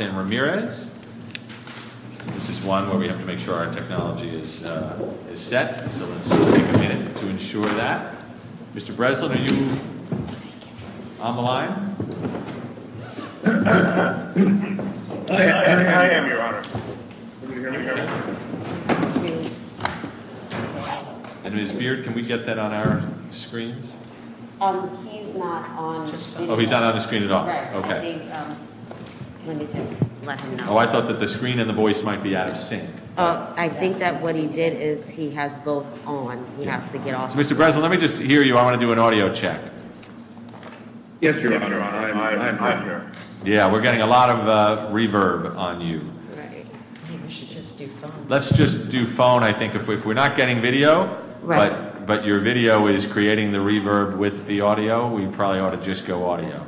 and Ramirez. This is one where we have to make sure our technology is set. So let's take a minute to ensure that. Mr. Breslin, are you on the line? I am, Your Honor. And Ms. Beard, can we get that on our screen? He's not on the screen. Oh, he's not on the screen at all. Oh, I thought that the screen and the voice might be out of sync. I think that what he did is he has both on. Mr. Breslin, let me just hear you. I want to do an audio check. Yes, Your Honor. I'm on here. Yeah, we're getting a lot of reverb on you. Let's just do phone. I think if we're not getting video, but your video is creating the reverb with the audio, we probably ought to just go audio.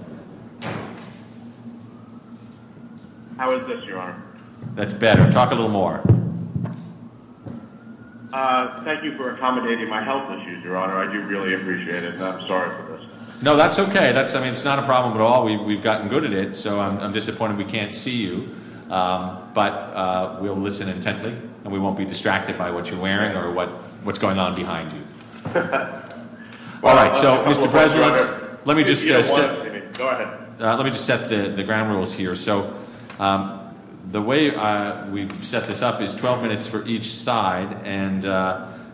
How is this, Your Honor? That's better. Talk a little more. Thank you for accommodating my health issues, Your Honor. I do really appreciate it. I'm sorry for this. No, that's okay. It's not a problem at all. We've gotten good at it. So I'm disappointed we can't see you. But we'll listen intently, and we won't be distracted by what you're wearing or what's going on behind you. All right, so Mr. Breslin, let me just set the ground rules here. So the way we've set this up is 12 minutes for each side, and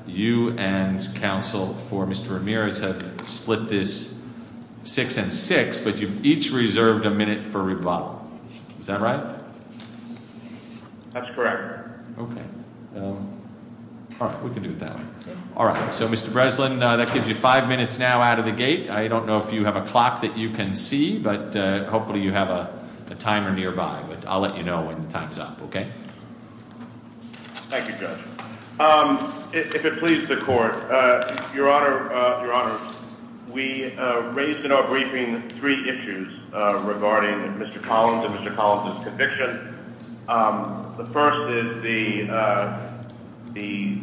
you and counsel for Mr. Ramirez have split this six and six, but you've each reserved a minute for rebuttal. Is that right? That's correct. Okay. All right, so Mr. Breslin, that gives you five minutes now out of the gate. I don't know if you have a clock that you can see, but hopefully you have a timer nearby. I'll let you know when the time's up, okay? Thank you, Judge. If it pleases the Court, Your Honor, we raised in our briefing three issues regarding Mr. Collins and Mr. Collins' conviction. The first is the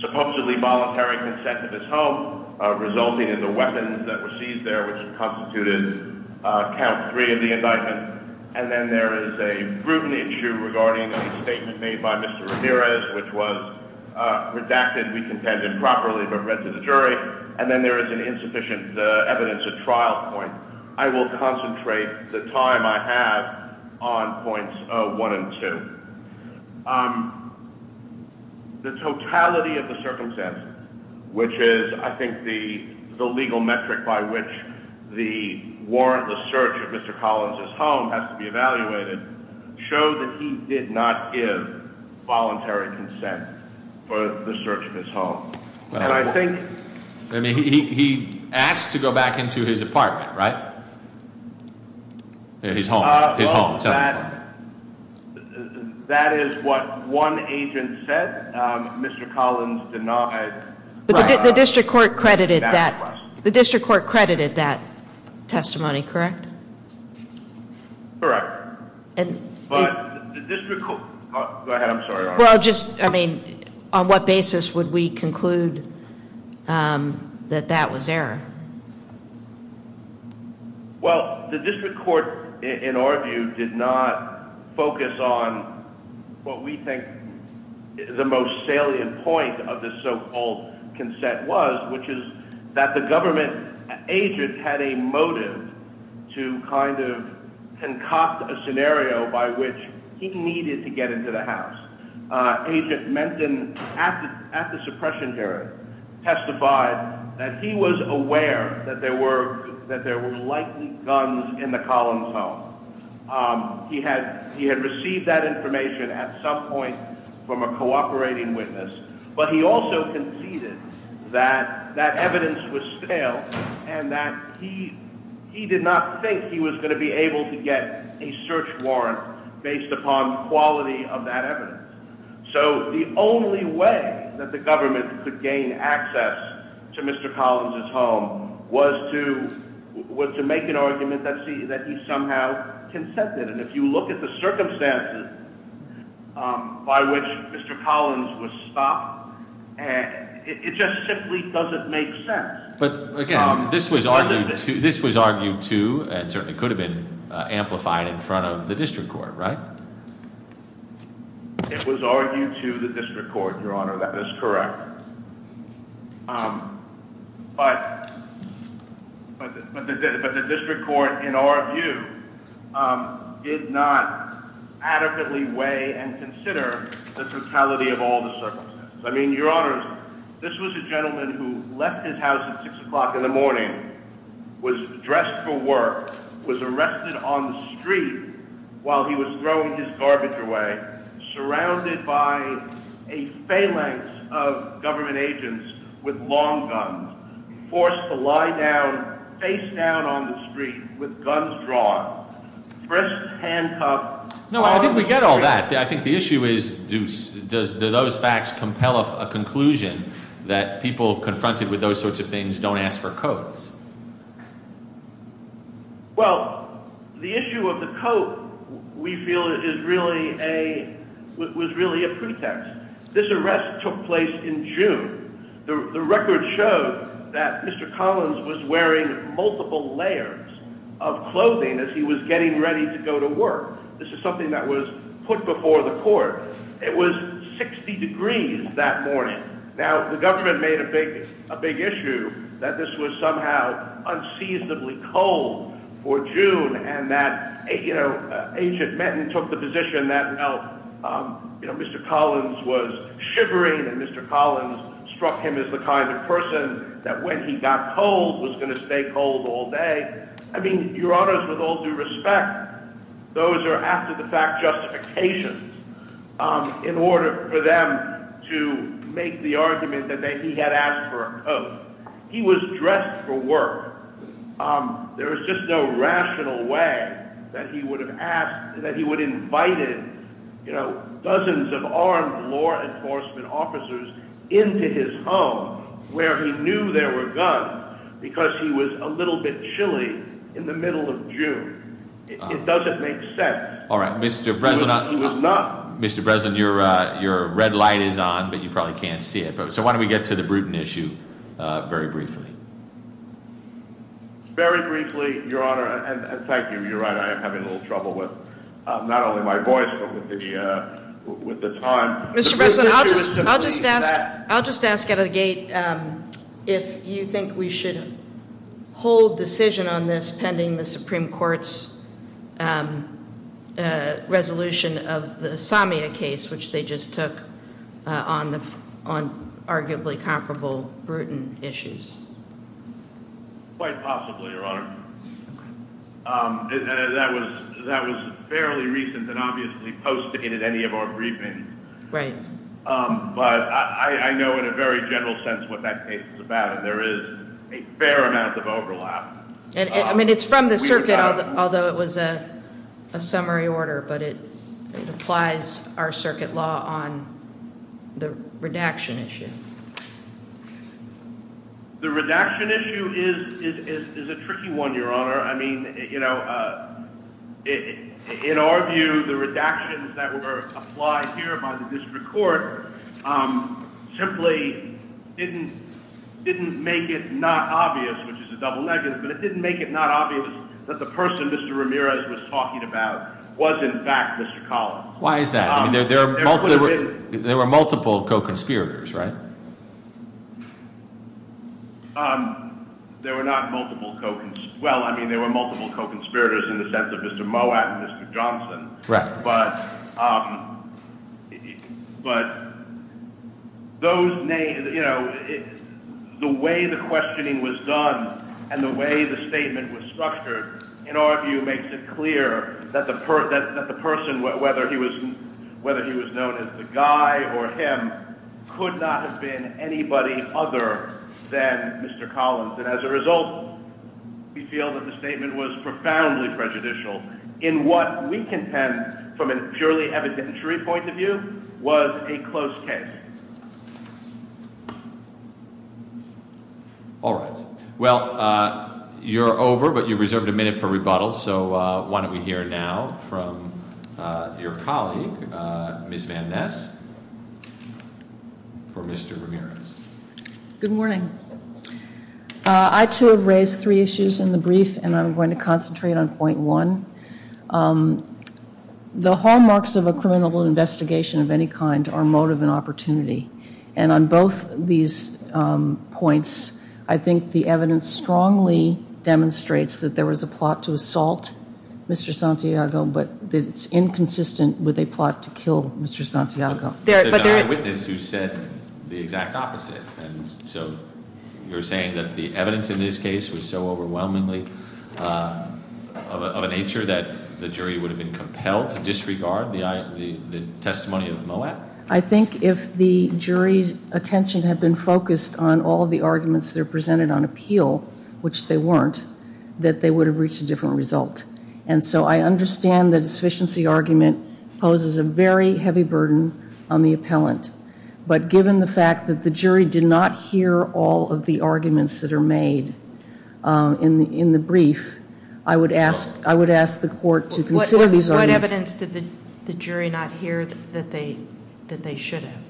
supposedly voluntary consent of his home resulting in the weapons that were seized there, which have constituted count three of the indictment. And then there is a brutal issue regarding a statement made by Mr. Ramirez, which was redacted, recontended properly, but read to the jury. And then there is an insufficient evidence at trial point. I will concentrate the time I have on points one and two. The totality of the circumstances, which is, I think, the legal metric by which the warrantless search of Mr. Collins' home has to be evaluated, shows that he did not give voluntary consent for the search of his home. And I think... I mean, he asked to go back into his apartment, right? He's home. He's home. That is what one agent said. Mr. Collins denied... The district court credited that testimony, correct? Correct. But the district court... Go ahead. I'm sorry. Well, just, I mean, on what basis would we conclude that that was error? Well, the district court, in our view, did not focus on what we think the most salient point of this so-called consent was, which is that the government agent had a motive to kind of concoct a scenario by which he needed to get into the house. Agent Menton, at the suppression hearing, testified that he was aware that there were likely guns in the Collins' home. He had received that information at some point from a cooperating witness, but he also conceded that that evidence was stale and that he did not think he was going to be able to get a search warrant based upon quality of that evidence. So the only way that the government could gain access to Mr. Collins' home was to make an argument that he somehow consented. And if you look at the circumstances by which Mr. Collins was stopped, it just simply doesn't make sense. But, again, this was argued to and certainly could have been amplified in front of the district court, right? It was argued to the district court, Your Honor. That is correct. But the district court, in our view, did not adequately weigh and consider the totality of all the circumstances. I mean, Your Honors, this was a gentleman who left his house at 6 o'clock in the morning, was dressed for work, was arrested on the street while he was throwing his garbage away, surrounded by a phalanx of government agents with long guns, forced to lie down face down on the street with guns drawn, first handgun— No, I think we get all that. I think the issue is, do those facts compel a conclusion that people confronted with those sorts of things don't ask for coats? Well, the issue of the coat, we feel, was really a pretext. This arrest took place in June. The record showed that Mr. Collins was wearing multiple layers of clothing as he was getting ready to go to work. This is something that was put before the court. It was 60 degrees that morning. Now, the government made a big issue that this was somehow unseasonably cold for June, and that Agent Metton took the position that Mr. Collins was shivering, and Mr. Collins struck him as the kind of person that when he got cold was going to stay cold all day. I mean, Your Honors, with all due respect, those are after-the-fact justifications in order for them to make the argument that he had asked for a coat. He was dressed for work. There was just no rational way that he would have asked, that he would have invited dozens of armed law enforcement officers into his home, where he knew there were guns, because he was a little bit chilly in the middle of June. It doesn't make sense. All right, Mr. Breslin, your red light is on, but you probably can't see it. So why don't we get to the Bruton issue very briefly. Very briefly, Your Honor, and thank you. You're right, I am having a little trouble with not only my voice, but with the time. Mr. Breslin, I'll just ask out of the gate if you think we should hold decision on this pending the Supreme Court's resolution of the Samia case, which they just took on arguably comparable Bruton issues. Quite possibly, Your Honor. That was fairly recent and obviously posted in any of our briefings. Right. But I know in a very general sense what that case is about. There is a fair amount of overlap. I mean, it's from the circuit, although it was a summary order, but it applies our circuit law on the redaction issue. The redaction issue is a tricky one, Your Honor. I mean, you know, in our view, the redactions that were applied here by the district court simply didn't make it not obvious, which is a double-edged sword, but it didn't make it not obvious that the person Mr. Ramirez was talking about was in fact Mr. Collins. Why is that? There were multiple co-conspirators, right? There were not multiple co-conspirators. Well, I mean, there were multiple co-conspirators in the sense of Mr. Moab and Mr. Johnson. Correct. But those names, you know, the way the questioning was done and the way the statement was structured, in our view, makes it clear that the person, whether he was known as the guy or him, could not have been anybody other than Mr. Collins. And as a result, we feel that the statement was profoundly prejudicial in what we contend, from a purely evidentiary point of view, was a closed case. All right. Well, you're over, but you reserved a minute for rebuttal, so why don't we hear now from your colleague, Ms. Van Ness, for Mr. Ramirez. Good morning. I, too, have raised three issues in the brief, and I'm going to concentrate on point one. The hallmarks of a criminal investigation of any kind are motive and opportunity, and on both these points, I think the evidence strongly demonstrates that there was a plot to assault Mr. Santiago, but that it's inconsistent with a plot to kill Mr. Santiago. There are eyewitnesses who said the exact opposite, and so you're saying that the evidence in this case was so overwhelmingly of a nature that the jury would have been compelled to disregard the testimony of Moab? Well, I think if the jury's attention had been focused on all of the arguments that are presented on appeal, which they weren't, that they would have reached a different result. And so I understand the deficiency argument poses a very heavy burden on the appellant, but given the fact that the jury did not hear all of the arguments that are made in the brief, I would ask the court to consider these arguments. On the evidence, did the jury not hear that they should have?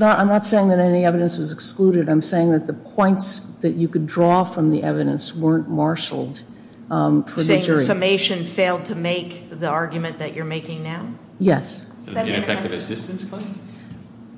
I'm not saying that any evidence was excluded. I'm saying that the points that you could draw from the evidence weren't marshaled for the jury. So the summation failed to make the argument that you're making now? Yes. Did it get back to the assistance claim?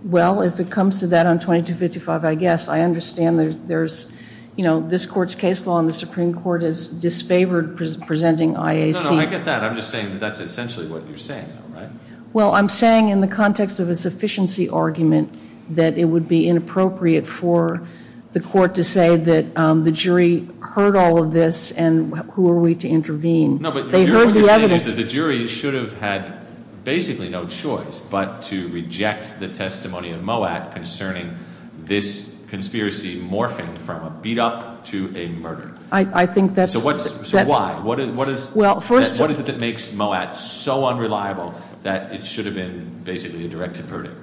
Well, if it comes to that on 2255, I guess. I understand there's, you know, this court's case law and the Supreme Court has disfavored presenting IAC. No, no, no, I get that. I'm just saying that that's essentially what you're saying, all right? Well, I'm saying in the context of a sufficiency argument that it would be inappropriate for the court to say that the jury heard all of this and who are we to intervene? No, but the jury should have had basically no choice but to reject the testimony in MOAC concerning this conspiracy morphing from a beat-up to a murder. So why? What is it that makes MOAC so unreliable that it should have been basically a direct deferral?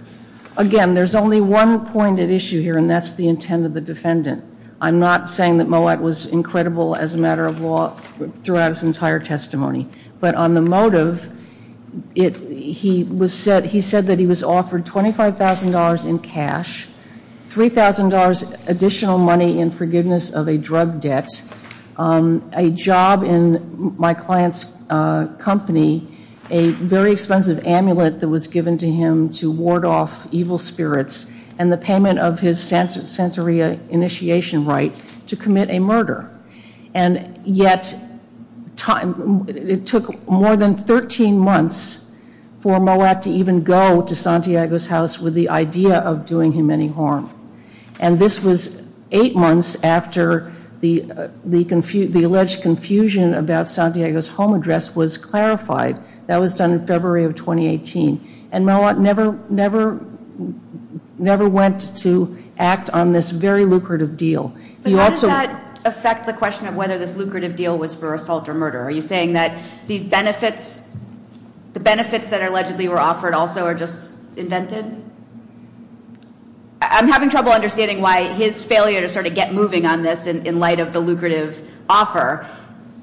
Again, there's only one pointed issue here, and that's the intent of the defendant. I'm not saying that MOAC was incredible as a matter of law throughout its entire testimony. But on the motive, he said that he was offered $25,000 in cash, $3,000 additional money in forgiveness of a drug debt, a job in my client's company, a very expensive amulet that was given to him to ward off evil spirits, and the payment of his censorea initiation right to commit a murder. And yet it took more than 13 months for MOAC to even go to Santiago's house with the idea of doing him any harm. And this was eight months after the alleged confusion about Santiago's home address was clarified. That was done in February of 2018. And MOAC never went to act on this very lucrative deal. But how does that affect the question of whether this lucrative deal was for assault or murder? Are you saying that the benefits that allegedly were offered also are just invented? I'm having trouble understanding why his failure to sort of get moving on this in light of the lucrative offer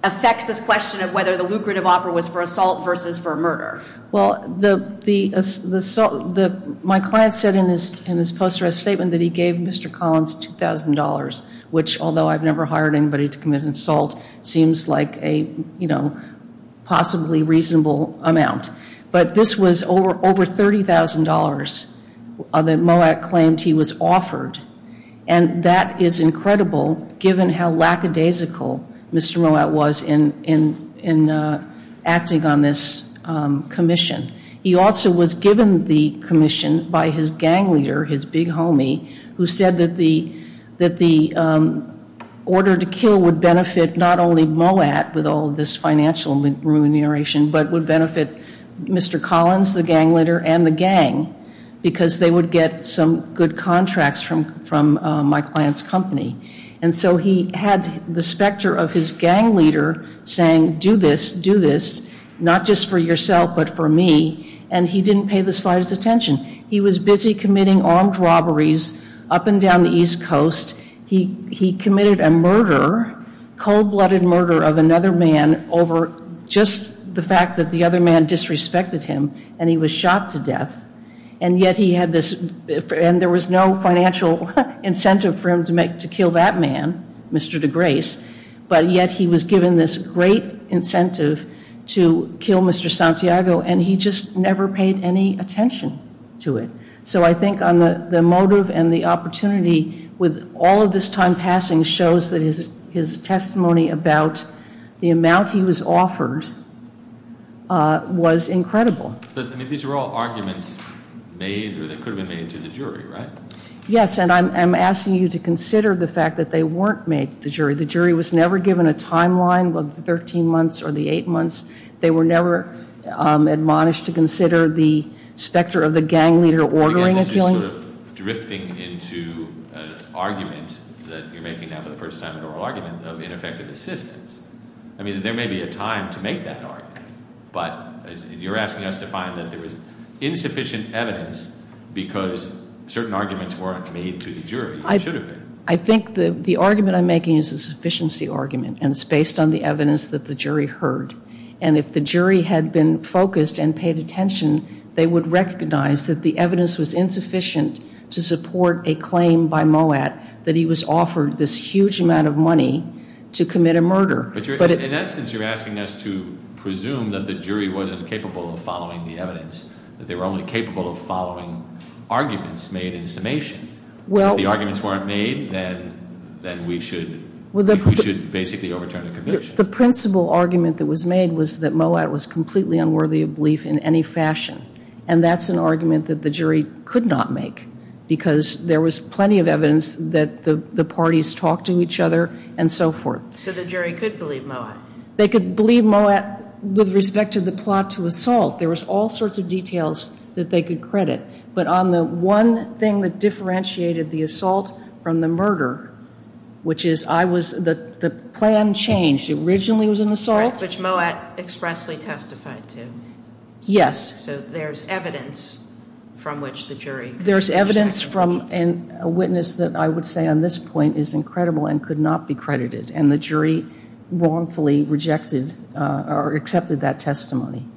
affects this question of whether the lucrative offer was for assault versus for murder. Well, my client said in his post-arrest statement that he gave Mr. Collins $2,000, which, although I've never hired anybody to commit assault, seems like a, you know, possibly reasonable amount. But this was over $30,000 that MOAC claimed he was offered. And that is incredible given how lackadaisical Mr. MOAC was in acting on this commission. He also was given the commission by his gang leader, his big homie, who said that the order to kill would benefit not only MOAC with all this financial remuneration, but would benefit Mr. Collins, the gang leader, and the gang, because they would get some good contracts from my client's company. And so he had the specter of his gang leader saying, do this, do this, not just for yourself but for me, and he didn't pay the slightest attention. He was busy committing armed robberies up and down the East Coast. He committed a murder, cold-blooded murder of another man over just the fact that the other man disrespected him, and he was shot to death, and yet he had this, and there was no financial incentive for him to kill that man, Mr. DeGrace, but yet he was given this great incentive to kill Mr. Santiago, and he just never paid any attention to it. So I think the motive and the opportunity, with all of this time passing, shows that his testimony about the amount he was offered was incredible. But these were all arguments made or that could have been made to the jury, right? Yes, and I'm asking you to consider the fact that they weren't made to the jury. The jury was never given a timeline of the 13 months or the 8 months. They were never admonished to consider the specter of the gang leader ordering a killing. I think the argument I'm making is a sufficiency argument and it's based on the evidence that the jury heard. And if the jury had been focused and paid attention, they would recognize that the evidence was insufficient to support a claim by Moat that he was offered this huge amount of money to commit a murder. In essence, you're asking us to presume that the jury wasn't capable of following the evidence, that they were only capable of following arguments made in summation. If the arguments weren't made, then we should basically overturn the conviction. I think the principal argument that was made was that Moat was completely unworthy of belief in any fashion. And that's an argument that the jury could not make because there was plenty of evidence that the parties talked to each other and so forth. So the jury could believe Moat? They could believe Moat with respect to the plot to assault. There was all sorts of details that they could credit. The plan changed. It originally was an assault? Which Moat expressly testified to. Yes. So there's evidence from which the jury... There's evidence from a witness that I would say on this point is incredible and could not be credited. And the jury wrongfully rejected or accepted that testimony.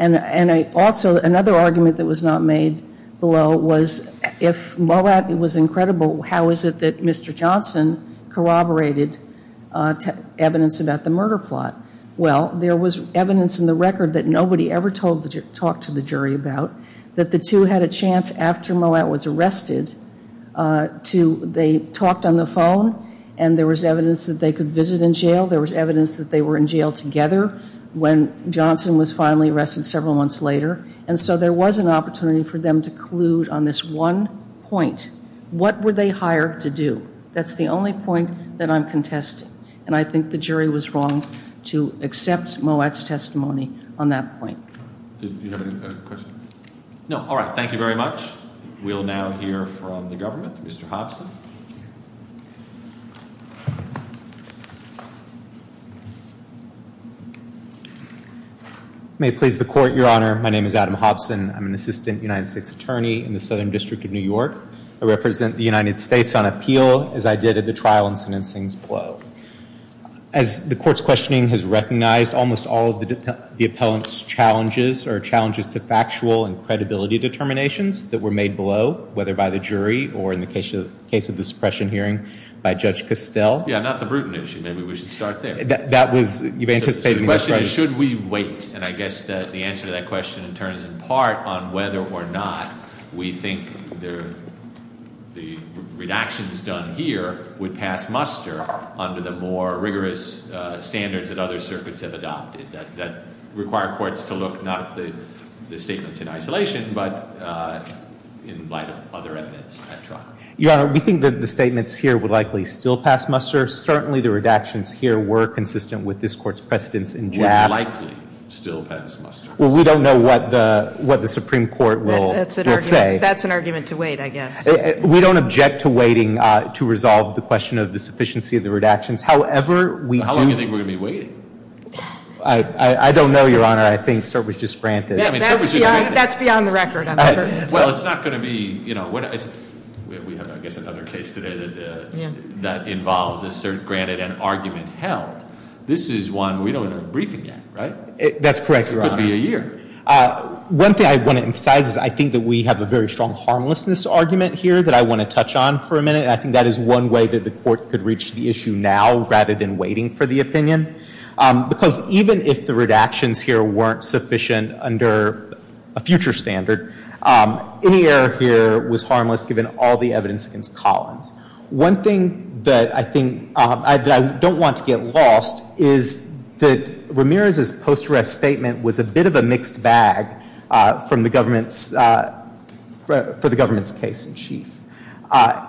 And also, another argument that was not made below was, if Moat was incredible, how is it that Mr. Johnson corroborated evidence about the murder plot? Well, there was evidence in the record that nobody ever talked to the jury about, that the two had a chance after Moat was arrested to... They talked on the phone and there was evidence that they could visit in jail. There was evidence that they were in jail together when Johnson was finally arrested several months later. And so there was an opportunity for them to collude on this one point. What were they hired to do? That's the only point that I'm contesting. And I think the jury was wrong to accept Moat's testimony on that point. Do you have any further questions? No. All right. Thank you very much. We will now hear from the government. Mr. Hobson. May it please the Court, Your Honor. My name is Adam Hobson. I'm an assistant United States Attorney in the Southern District of New York. I represent the United States on appeal, as I did at the trial and sentencing below. As the Court's questioning has recognized, almost all of the appellant's challenges are challenges to factual and credibility determinations that were made below, Yeah, not the Bruton issue. Maybe we should start there. The question is, should we wait? And I guess the answer to that question turns in part on whether or not we think the redactions done here would pass muster under the more rigorous standards that other circuits have adopted that require courts to look not at the statements in isolation, but in light of other evidence at trial. Yeah, we think that the statements here would likely still pass muster. Certainly, the redactions here were consistent with this Court's precedence in jazz. Would likely still pass muster. Well, we don't know what the Supreme Court will say. That's an argument to wait, I guess. We don't object to waiting to resolve the question of the sufficiency of the redactions. However, we do think we're going to be waiting. I don't know, Your Honor. I think Sir was just frantic. That's beyond the record. Well, it's not going to be, you know, we have, I guess, another case today that involves, as Sir granted, an argument held. This is one we don't have a briefing yet, right? That's correct, Your Honor. Could be a year. One thing I want to emphasize is I think that we have a very strong harmlessness argument here that I want to touch on for a minute, and I think that is one way that the Court could reach the issue now rather than waiting for the opinion. Because even if the redactions here weren't sufficient under a future standard, any error here was harmless given all the evidence against Collins. One thing that I think, that I don't want to get lost is that Ramirez's post-arrest statement was a bit of a mixed bag for the government's case in chief.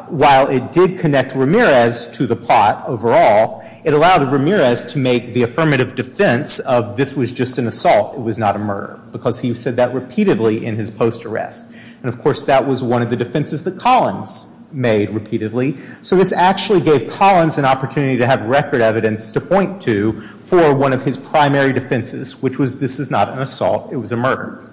While it did connect Ramirez to the plot overall, it allowed Ramirez to make the affirmative defense of this was just an assault, it was not a murder, because he said that repeatedly in his post-arrest. And, of course, that was one of the defenses that Collins made repeatedly, so it actually gave Collins an opportunity to have record evidence to point to for one of his primary defenses, which was this is not an assault, it was a murder.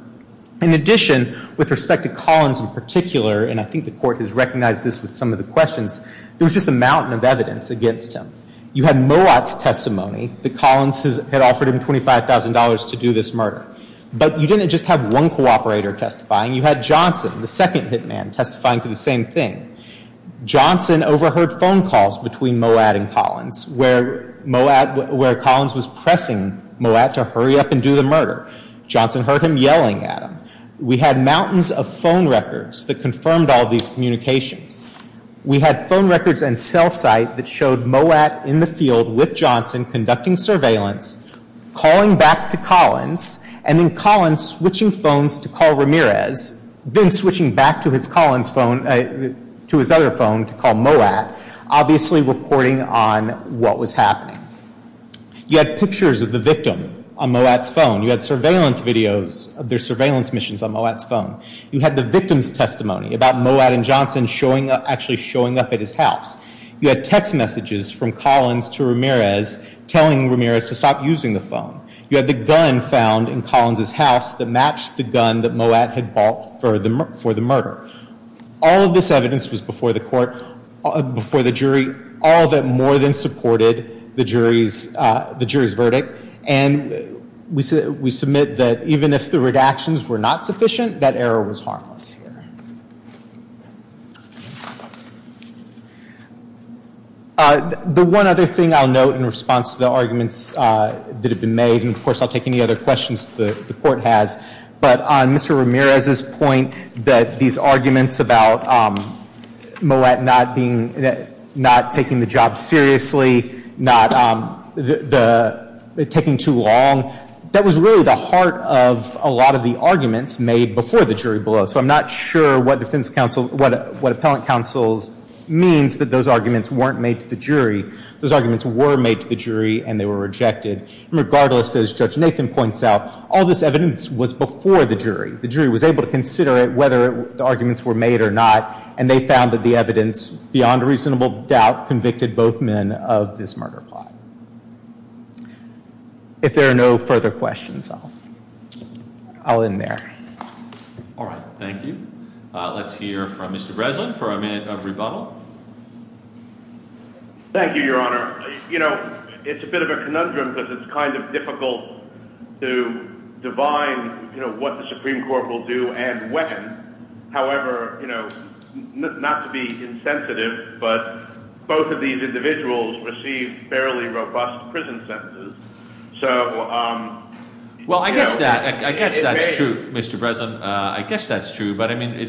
In addition, with respect to Collins in particular, and I think the Court has recognized this with some of the questions, there was just a mountain of evidence against him. You had Mowat's testimony, that Collins had offered him $25,000 to do this murder. But you didn't just have one cooperator testifying, you had Johnson, the second hitman, testifying to the same thing. Johnson overheard phone calls between Mowat and Collins, where Collins was pressing Mowat to hurry up and do the murder. Johnson heard him yelling at him. We had mountains of phone records that confirmed all these communications. We had phone records and cell sites that showed Mowat in the field with Johnson conducting surveillance, calling back to Collins, and then Collins switching phones to call Ramirez, then switching back to his other phone to call Mowat, obviously reporting on what was happening. You had pictures of the victim on Mowat's phone. You had surveillance videos of their surveillance missions on Mowat's phone. You had the victim's testimony about Mowat and Johnson actually showing up at his house. You had text messages from Collins to Ramirez telling Ramirez to stop using the phone. You had the gun found in Collins' house that matched the gun that Mowat had bought for the murder. All of this evidence was before the jury, all but more than supported the jury's verdict, and we submit that even if the redactions were not sufficient, that error was harmless here. The one other thing I'll note in response to the arguments that have been made, and of course I'll take any other questions the Court has, but on Mr. Ramirez's point that these arguments about Mowat not taking the job seriously, not taking too long, that was really the heart of a lot of the arguments made before the jury blow. So I'm not sure what Appellant Counsel's means that those arguments weren't made to the jury. Those arguments were made to the jury, and they were rejected. Regardless, as Judge Nathan points out, all this evidence was before the jury. The jury was able to consider it, whether the arguments were made or not, and they found that the evidence, beyond reasonable doubt, convicted both men of this murder plot. If there are no further questions, I'll end there. Thank you. Let's hear from Mr. Breslin for a minute of rebuttal. Thank you, Your Honor. You know, it's a bit of a conundrum because it's kind of difficult to divine what the Supreme Court will do and when. However, you know, not to be insensitive, but both of these individuals received fairly robust prison sentences. Well, I guess that's true, Mr. Breslin. I guess that's true, but I mean,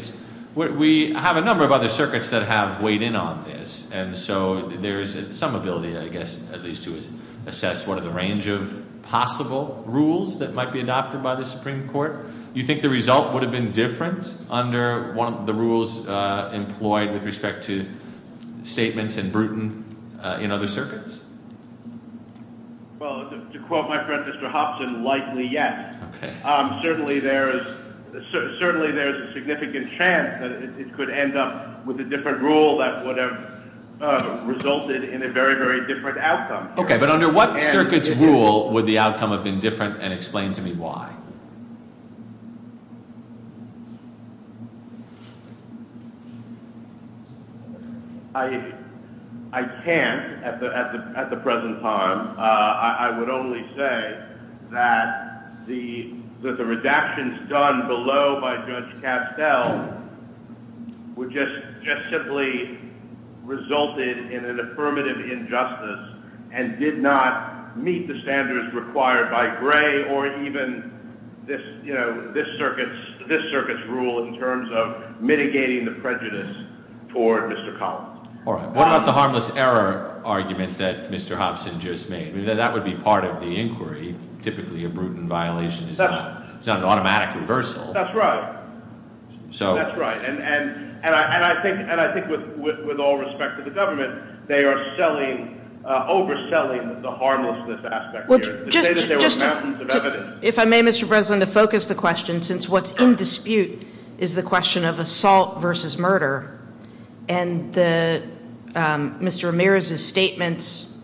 we have a number of other circuits that have weighed in on this, and so there's some ability, I guess, at least to assess what are the range of possible rules that might be adopted by the Supreme Court. Do you think the result would have been different under one of the rules employed with respect to statements and bruton in other circuits? Well, to quote my friend Mr. Hobson, likely yes. Certainly there's a significant chance that it could end up with a different rule that would have resulted in a very, very different outcome. Okay, but under what circuit's rule would the outcome have been different and explain to me why? I can't at the present time. I would only say that the redactions done below by Judge Castell were just simply resulted in an affirmative injustice and did not meet the standards required by Gray or even this circuit's rule in terms of mitigating the prejudice toward Mr. Collins. All right. What about the harmless error argument that Mr. Hobson just made? That would be part of the inquiry, typically a brutal violation. It's not an automatic reversal. That's right. That's right, and I think with all respect to the government, they are overselling the harmlessness aspect. If I may, Mr. Breslin, to focus the question, since what's in dispute is the question of assault versus murder, and Mr. Ramirez's statements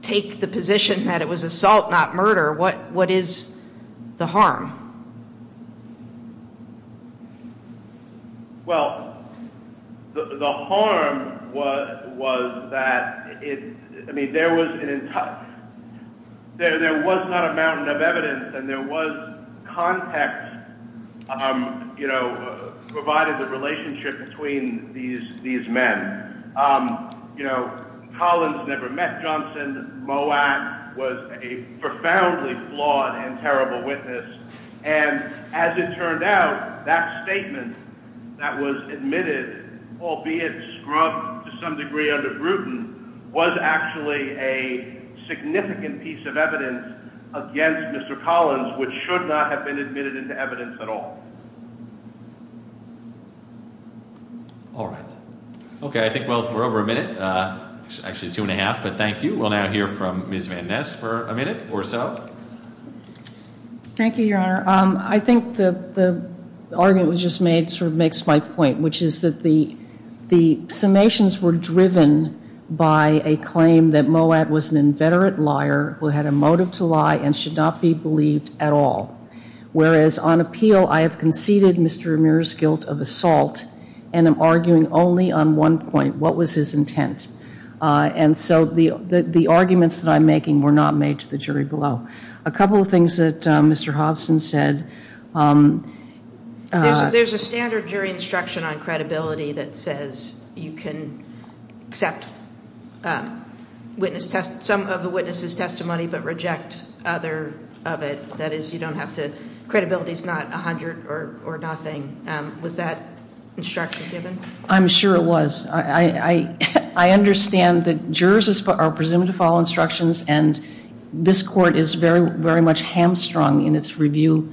take the position that it was assault, not murder. What is the harm? Well, the harm was that there was not a mountain of evidence and there was context provided the relationship between these men. Collins never met Johnson. Moak was a profoundly flawed and terrible witness, and as it turned out, that statement that was admitted, albeit scrubbed to some degree under Bruton, was actually a significant piece of evidence against Mr. Collins, which should not have been admitted into evidence at all. All right. Okay, I think we're over a minute. Actually, two and a half, but thank you. We'll now hear from Ms. Van Ness for a minute or so. Thank you, Your Honor. I think the argument that was just made sort of makes my point, which is that the summations were driven by a claim that Moak was an inveterate liar who had a motive to lie and should not be believed at all, whereas on appeal I have conceded Mr. Ramirez's guilt of assault and am arguing only on one point, what was his intent. And so the arguments that I'm making were not made to the jury below. A couple of things that Mr. Hoskins said. There's a standard jury instruction on credibility that says you can accept some of the witness's testimony but reject other of it. That is, you don't have to – credibility is not 100 or nothing. Was that instruction given? I'm sure it was. I understand that jurors are presumed to follow instructions, and this court is very much hamstrung in its review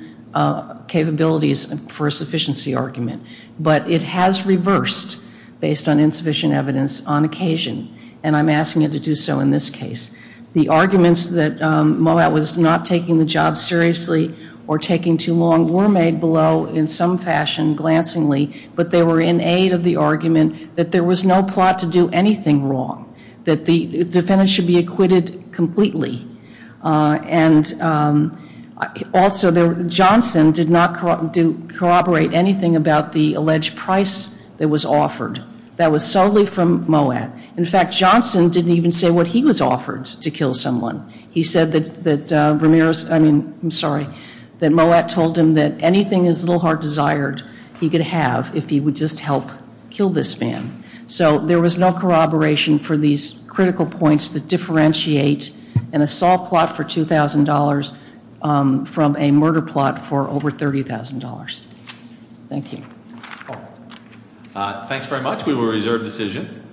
capabilities for a sufficiency argument. But it has reversed based on insufficient evidence on occasion, and I'm asking it to do so in this case. The arguments that Moak was not taking the job seriously or taking too long were made below in some fashion glancingly, but they were in aid of the argument that there was no plot to do anything wrong, that the defendant should be acquitted completely. And also Johnson did not corroborate anything about the alleged price that was offered. That was solely from Moak. In fact, Johnson didn't even say what he was offered to kill someone. He said that Moak told him that anything his little heart desired he could have if he would just help kill this man. So there was no corroboration for these critical points that differentiate an assault plot for $2,000 from a murder plot for over $30,000. Thank you. Thanks very much. We will reserve decision.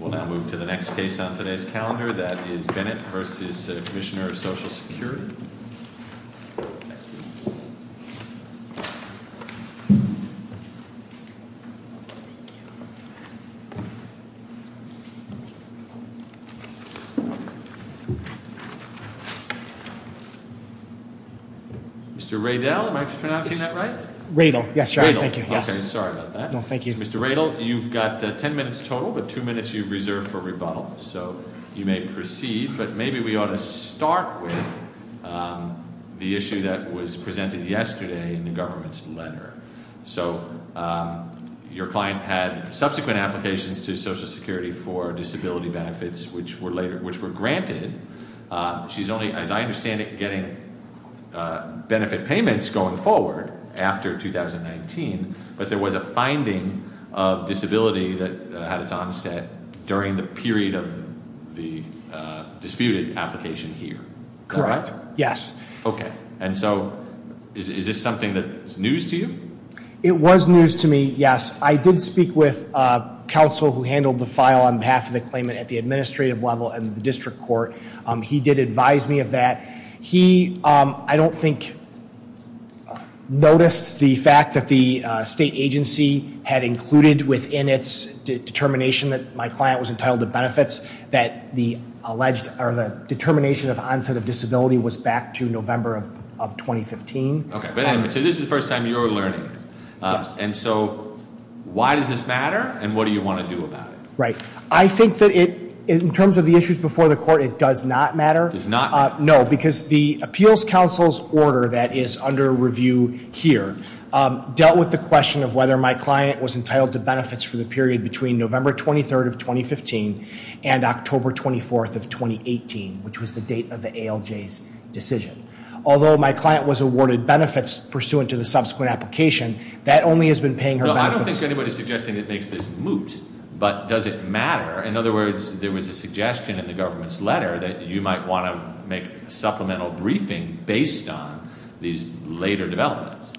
We'll now move to the next case on today's calendar. That is Bennett v. Commissioner of Social Security. Mr. Radel, am I pronouncing that right? Radel, yes. Radel. Okay, sorry about that. No, thank you. Mr. Radel, you've got ten minutes total, but two minutes you've reserved for rebuttal. So you may proceed, but maybe we ought to start with the issue that was presented yesterday in the government's letter. So your client had subsequent applications to Social Security for disability benefits, which were granted. She's only, as I understand it, getting benefit payments going forward after 2019, but there was a finding of disability that had its onset during the period of the disputed application here. Correct, yes. Okay, and so is this something that's news to you? It was news to me, yes. I did speak with counsel who handled the file on behalf of the claimant at the administrative level and the district court. He did advise me of that. He, I don't think, noticed the fact that the state agency had included within its determination that my client was entitled to benefits that the alleged or the determination of onset of disability was back to November of 2015. Okay, so this is the first time you're learning. And so why does this matter, and what do you want to do about it? Right. I think that in terms of the issues before the court, it does not matter. It does not? No, because the appeals counsel's order that is under review here dealt with the question of whether my client was entitled to benefits for the period between November 23rd of 2015 and October 24th of 2018, which was the date of the ALJ's decision. Although my client was awarded benefits pursuant to the subsequent application, that only has been paying her back. No, I don't think anybody's suggesting that this is moot, but does it matter? In other words, there was a suggestion in the government's letter that you might want to make a supplemental briefing based on these later developments.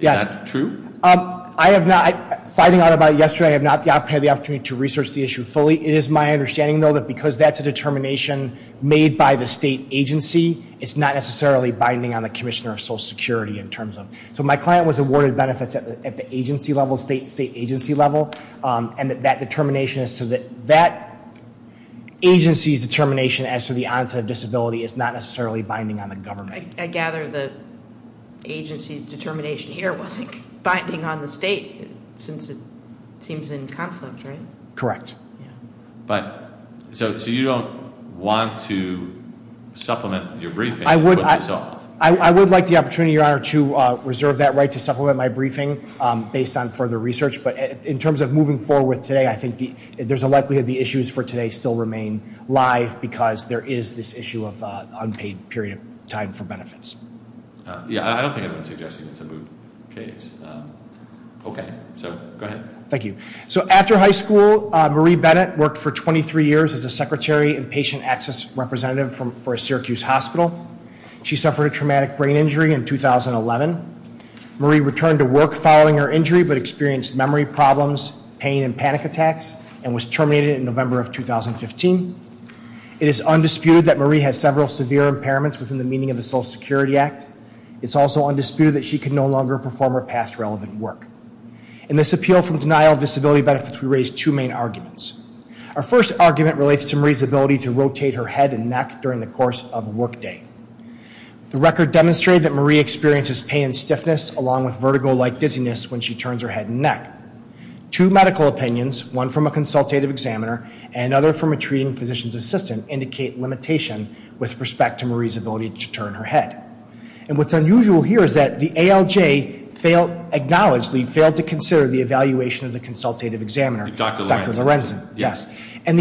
Is that true? I have not, finding out about it yesterday, I have not had the opportunity to research the issue fully. It is my understanding, though, that because that's a determination made by the state agency, it's not necessarily binding on the commissioner of Social Security in terms of. So my client was awarded benefits at the agency level, state agency level, and that determination, that agency's determination as to the onset of disability is not necessarily binding on the government. I gather the agency's determination here wasn't binding on the state since it seems in conflict, right? Correct. So you don't want to supplement your briefing? I would like the opportunity, Your Honor, to reserve that right to supplement my briefing based on further research. But in terms of moving forward today, I think there's a likelihood the issues for today still remain live because there is this issue of unpaid period of time for benefits. Yeah, I don't think anybody's suggesting it's a moot case. Okay, so go ahead. Thank you. So after high school, Marie Bennett worked for 23 years as a secretary and patient access representative for a Syracuse hospital. She suffered a traumatic brain injury in 2011. Marie returned to work following her injury but experienced memory problems, pain, and panic attacks and was terminated in November of 2015. It is undisputed that Marie has several severe impairments within the meaning of the Social Security Act. It's also undisputed that she can no longer perform her past relevant work. In this appeal for the denial of disability benefits, we raise two main arguments. Our first argument relates to Marie's ability to rotate her head and neck during the course of workday. The record demonstrated that Marie experiences pain and stiffness along with vertigo-like dizziness when she turns her head and neck. Two medical opinions, one from a consultative examiner and another from a treating physician's assistant, indicate limitation with respect to Marie's ability to turn her head. And what's unusual here is that the ALJ acknowledged we failed to consider the evaluation of the consultative examiner, Dr. Lorenzen, yes. But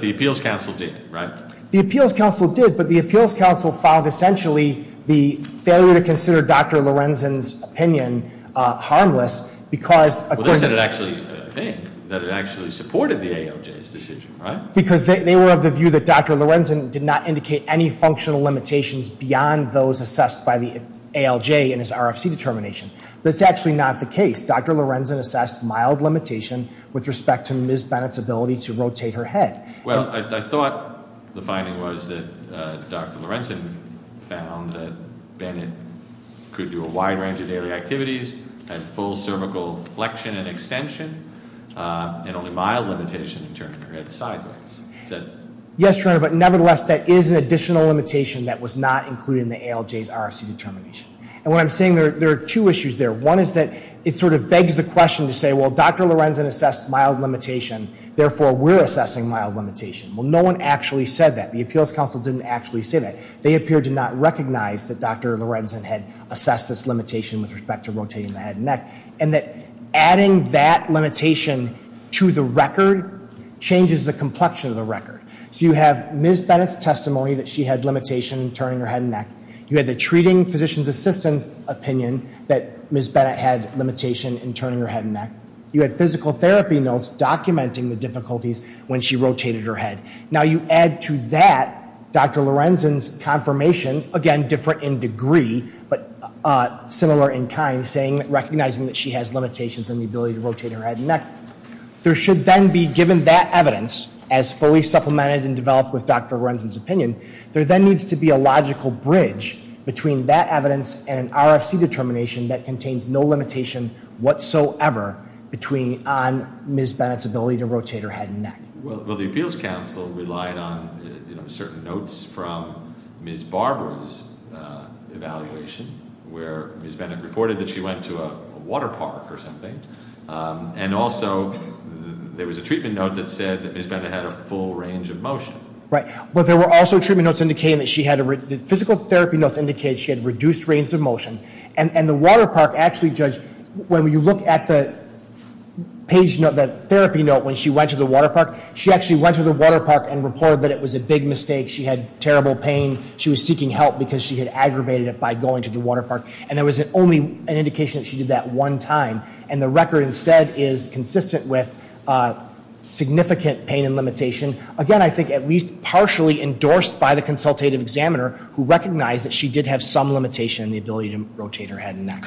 the appeals council did, right? The appeals council did, but the appeals council filed, essentially, the failure to consider Dr. Lorenzen's opinion harmless because... That it actually supported the ALJ's decision, right? Because they were of the view that Dr. Lorenzen did not indicate any functional limitations beyond those assessed by the ALJ in his RFC determination. That's actually not the case. Dr. Lorenzen assessed mild limitation with respect to Ms. Bennett's ability to rotate her head. Well, I thought the finding was that Dr. Lorenzen found that Bennett could do a wide range of daily activities, had full cervical flexion and extension, and only mild limitations in turning her head sideways. Yes, but nevertheless, that is an additional limitation that was not included in the ALJ's RFC determination. And what I'm saying, there are two issues there. One is that it sort of begs the question to say, well, Dr. Lorenzen assessed mild limitation, therefore we're assessing mild limitation. Well, no one actually said that. The appeals council didn't actually say that. They appear to not recognize that Dr. Lorenzen had assessed this limitation with respect to rotating the head and neck, and that adding that limitation to the record changes the complexion of the record. So you have Ms. Bennett's testimony that she had limitation in turning her head and neck. You had the treating physician's assistant's opinion that Ms. Bennett had limitation in turning her head and neck. You had physical therapy notes documenting the difficulties when she rotated her head. Now, you add to that Dr. Lorenzen's confirmation, again, different in degree, but similar in kind, recognizing that she has limitations in the ability to rotate her head and neck. There should then be, given that evidence, as fully supplemented and developed with Dr. Lorenzen's opinion, there then needs to be a logical bridge between that evidence and an RFC determination that contains no limitation whatsoever on Ms. Bennett's ability to rotate her head and neck. Well, the appeals council relied on certain notes from Ms. Barbara's evaluation, where Ms. Bennett reported that she went to a water park or something, and also there was a treatment note that said that Ms. Bennett had a full range of motion. Right, but there were also treatment notes indicating that she had a reduced range of motion. And the water park actually judged, when you look at the therapy note when she went to the water park, she actually went to the water park and reported that it was a big mistake. She had terrible pain. She was seeking help because she had aggravated it by going to the water park. And there was only an indication that she did that one time, and the record instead is consistent with significant pain and limitation. Again, I think at least partially endorsed by the consultative examiner, who recognized that she did have some limitation in the ability to rotate her head and neck.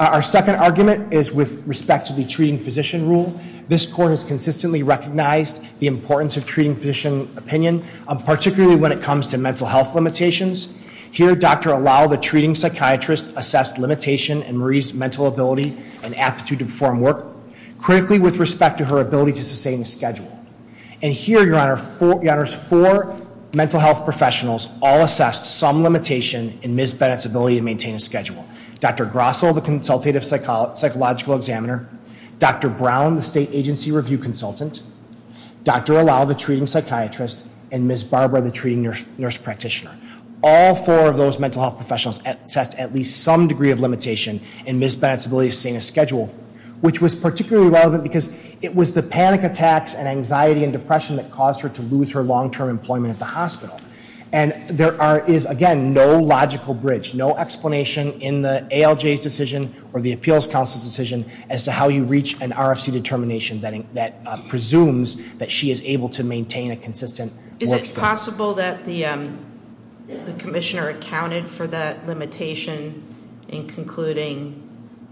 Our second argument is with respect to the treating physician rule. This court has consistently recognized the importance of treating physician opinion, particularly when it comes to mental health limitations. Here, Dr. Allow, the treating psychiatrist, assessed limitation in Marie's mental ability and aptitude to perform work, critically with respect to her ability to sustain a schedule. And here, Your Honor, four mental health professionals all assessed some limitation in Ms. Bennett's ability to maintain a schedule. Dr. Grossel, the consultative psychological examiner, Dr. Brown, the state agency review consultant, Dr. Allow, the treating psychiatrist, and Ms. Barbara, the treating nurse practitioner. All four of those mental health professionals assessed at least some degree of limitation in Ms. Bennett's ability to sustain a schedule, which was particularly relevant because it was the panic attacks and anxiety and depression that caused her to lose her long-term employment at the hospital. And there is, again, no logical bridge, no explanation in the ALJ's decision or the appeals counsel's decision as to how you reach an RFC determination that presumes that she is able to maintain a consistent work schedule. Is it possible that the commissioner accounted for the limitation in concluding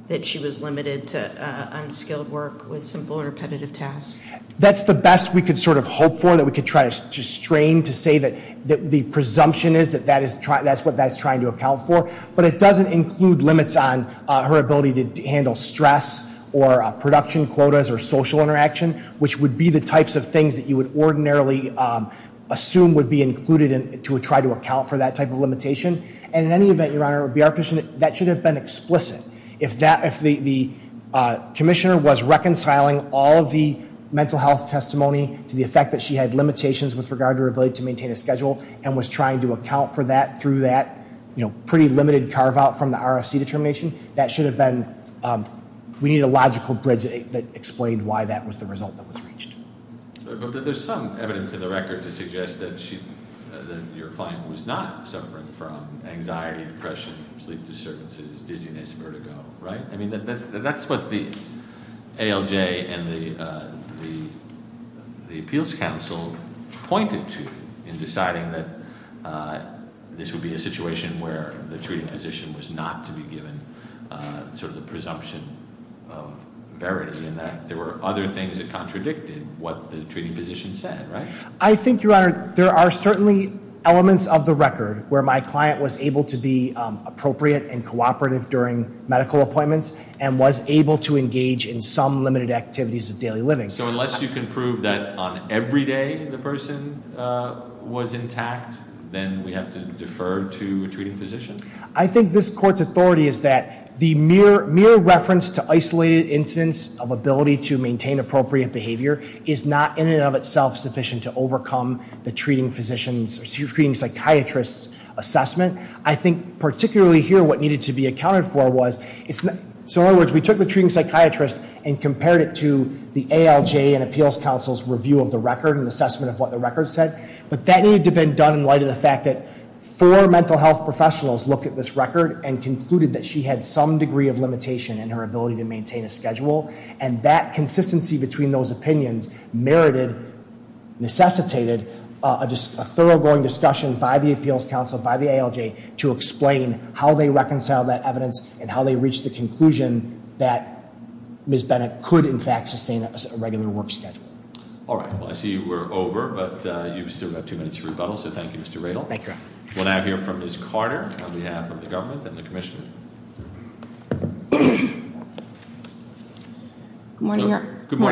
that she was limited to unskilled work with simple repetitive tasks? That's the best we could sort of hope for, that we could try to strain to say that the presumption is that that's what that's trying to account for. But it doesn't include limits on her ability to handle stress or production quotas or social interaction, which would be the types of things that you would ordinarily assume would be included to try to account for that type of limitation. And in any event, Your Honor, that should have been explicit. If the commissioner was reconciling all the mental health testimony to the effect that she had limitations with regard to her ability to maintain a schedule and was trying to account for that through that pretty limited carve-out from the RFC determination, that should have been, we need a logical bridge that explained why that was the result that was reached. But there's some evidence in the record to suggest that your client was not suffering from anxiety, depression, sleep disturbances, dizziness, vertigo, right? I mean, that's what the ALJ and the Appeals Council pointed to in deciding that this would be a situation where the treating physician was not to be given the presumption of verity and that there were other things that contradicted what the treating physician said, right? I think, Your Honor, there are certainly elements of the record where my client was able to be appropriate and cooperative during medical appointments and was able to engage in some limited activities of daily living. So unless you can prove that on every day the person was intact, then we have to defer to a treating physician? I think this Court's authority is that the mere reference to isolated incidents of ability to maintain appropriate behavior is not in and of itself sufficient to overcome the treating psychiatrist's assessment. I think particularly here what needed to be accounted for was, so in other words, we took the treating psychiatrist and compared it to the ALJ and Appeals Council's review of the record and assessment of what the record said, but that needed to be done in light of the fact that four mental health professionals looked at this record and concluded that she had some degree of limitation in her ability to maintain a schedule, and that consistency between those opinions merited, necessitated, a thoroughgoing discussion by the Appeals Council, by the ALJ, to explain how they reconciled that evidence and how they reached the conclusion that Ms. Bennett could, in fact, sustain a ready-to-work schedule. All right. Well, I see we're over, but you still have two minutes to rebuttal, so thank you, Mr. Radel. Thank you. We'll now hear from Ms. Carter on behalf of the government and the Commissioner. Good morning,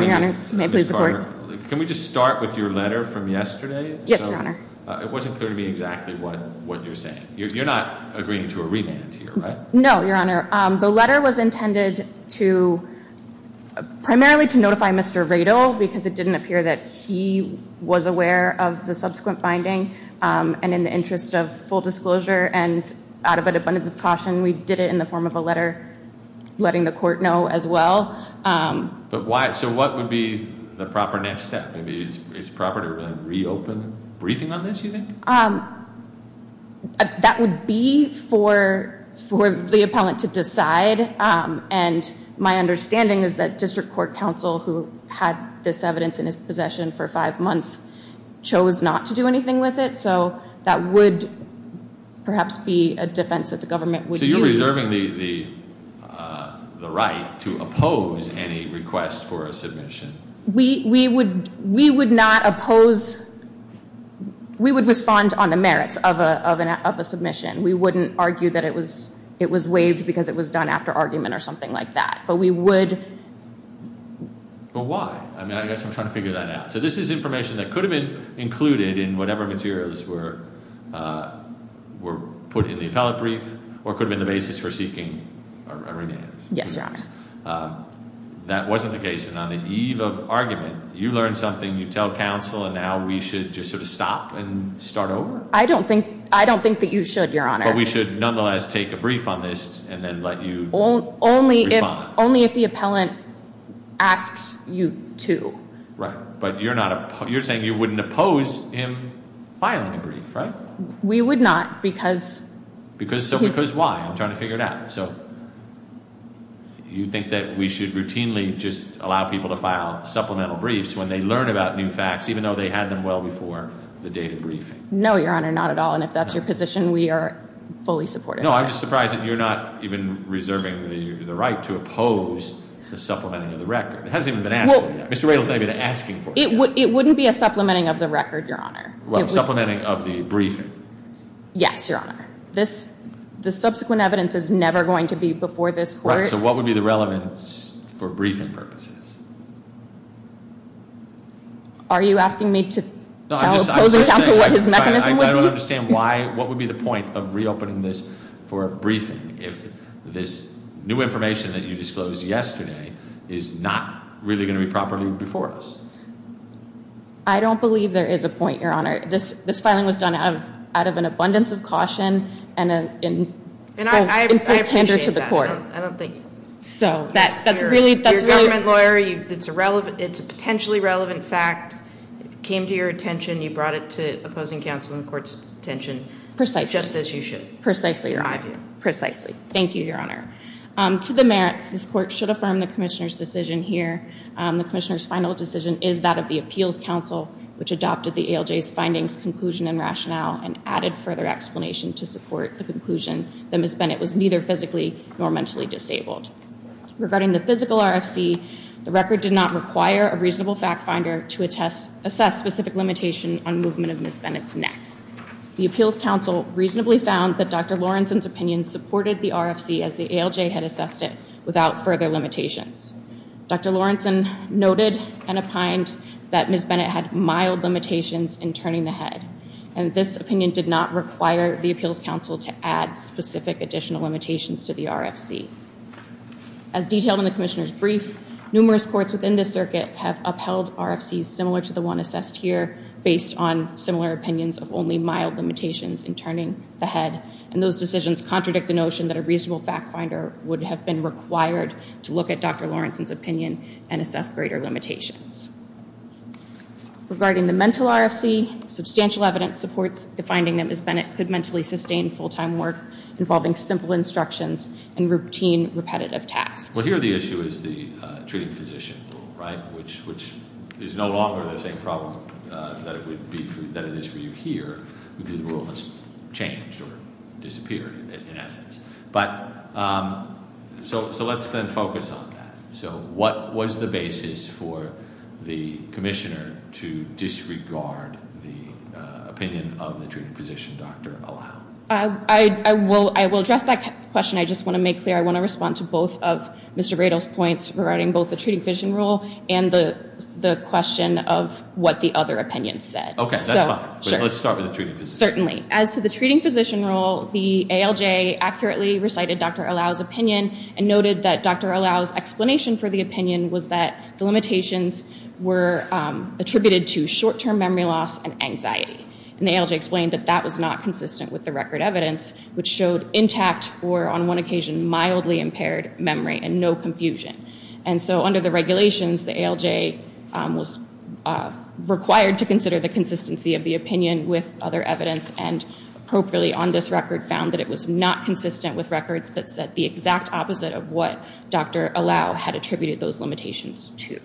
Your Honor. May I please record? Ms. Carter, can we just start with your letter from yesterday? Yes, Your Honor. It wasn't clear to me exactly what you're saying. You're not agreeing to a remand here, right? No, Your Honor. The letter was intended primarily to notify Mr. Radel because it didn't appear that he was aware of the subsequent finding, and in the interest of full disclosure and out of an abundance of caution, we did it in the form of a letter letting the court know as well. So what would be the proper next step? Is it proper to reopen the briefing on this, you think? That would be for the appellant to decide, and my understanding is that district court counsel, who had this evidence in his possession for five months, chose not to do anything with it, so that would perhaps be a defense that the government would use. Do you reserve the right to oppose any request for a submission? We would not oppose – we would respond on the merits of a submission. We wouldn't argue that it was waived because it was done after argument or something like that, but we would – But why? I guess I'm trying to figure that out. So this is information that could have been included in whatever materials were put in the appellate brief or could have been the basis for seeking a remand. Yes, Your Honor. That wasn't the case. On the eve of argument, you learn something, you tell counsel, and now we should just sort of stop and start over? I don't think that you should, Your Honor. But we should nonetheless take a brief on this and then let you respond. Only if the appellant asks you to. Right, but you're saying you wouldn't oppose him filing a brief, right? We would not because – Because why? I'm trying to figure it out. So you think that we should routinely just allow people to file supplemental briefs when they learn about new facts, even though they had them well before the day of the brief? No, Your Honor, not at all, and if that's your position, we are fully supportive. No, I'm just surprised that you're not even reserving the right to oppose the supplementing of the record. It hasn't even been asked yet. Mr. Raylis may have been asking for it. It wouldn't be a supplementing of the record, Your Honor. Well, supplementing of the brief. Yes, Your Honor. The subsequent evidence is never going to be before this court. Right, so what would be the relevance for briefing purposes? Are you asking me to oppose the counsel with his mechanism? I don't understand why – what would be the point of reopening this for a briefing if this new information that you disposed yesterday is not really going to be properly before us? I don't believe there is a point, Your Honor. This filing was done out of an abundance of caution and in full candor to the court. And I appreciate that. I don't think that's true. You're a government lawyer. It's a potentially relevant fact. It came to your attention. You brought it to opposing counsel and the court's attention. Precisely. Just as you should. Precisely, Your Honor. Precisely. Thank you, Your Honor. To the merits, this court should affirm the commissioner's decision here. The commissioner's final decision is that of the appeals counsel, which adopted the ALJ's findings, conclusion, and rationale and added further explanation to support the conclusion that Ms. Bennett was neither physically nor mentally disabled. Regarding the physical RFC, the record did not require a reasonable fact finder to assess specific limitation on movement of Ms. Bennett's neck. The appeals counsel reasonably found that Dr. Lawrenson's opinion supported the RFC as the ALJ had assessed it without further limitations. Dr. Lawrenson noted and opined that Ms. Bennett had mild limitations in turning the head, and this opinion did not require the appeals counsel to add specific additional limitations to the RFC. As detailed in the commissioner's brief, numerous courts within this circuit have upheld RFCs similar to the one assessed here based on similar opinions of only mild limitations in turning the head, and those decisions contradict the notion that a reasonable fact finder would have been required to look at Dr. Lawrenson's opinion and assess greater limitations. Regarding the mental RFC, substantial evidence supports the finding that Ms. Bennett could mentally sustain full-time work involving simple instructions and routine, repetitive tasks. Well, here the issue is the treating physician rule, right, which is no longer the same problem that it is for you here. The rule has changed or disappeared in evidence. So let's then focus on that. So what was the basis for the commissioner to disregard the opinion of the treating physician, Dr. O'Hara? I will address that question. I just want to make clear I want to respond to both of Mr. Bradel's points regarding both the treating physician rule and the question of what the other opinion said. Okay, that's fine. Let's start with the treating physician rule. Certainly. As to the treating physician rule, the ALJ accurately recited Dr. Allao's opinion and noted that Dr. Allao's explanation for the opinion was that the limitations were attributed to short-term memory loss and anxiety. And the ALJ explained that that was not consistent with the record evidence, which showed intact or on one occasion mildly impaired memory and no confusion. And so under the regulations, the ALJ was required to consider the consistency of the opinion with other evidence and appropriately on this record found that it was not consistent with records that said the exact opposite of what Dr. Allao had attributed those limitations to.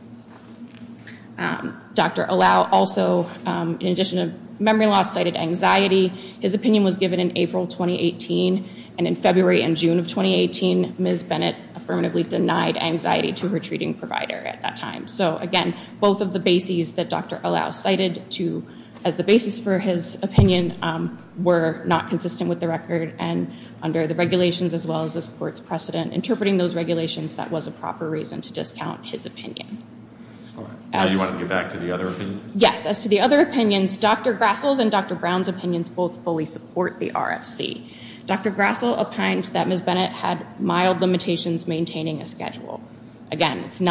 Dr. Allao also, in addition to memory loss, cited anxiety. His opinion was given in April 2018, and in February and June of 2018, Ms. Bennett affirmatively denied anxiety to her treating provider at that time. So, again, both of the bases that Dr. Allao cited as the basis for his opinion were not consistent with the record, and under the regulations as well as this court's precedent, interpreting those regulations, that was a proper reason to discount his opinion. Do you want to get back to the other opinions? Yes. As to the other opinions, Dr. Grassl's and Dr. Brown's opinions both fully support the RFC. Dr. Grassl opined that Ms. Bennett had mild limitations maintaining a schedule. Didn't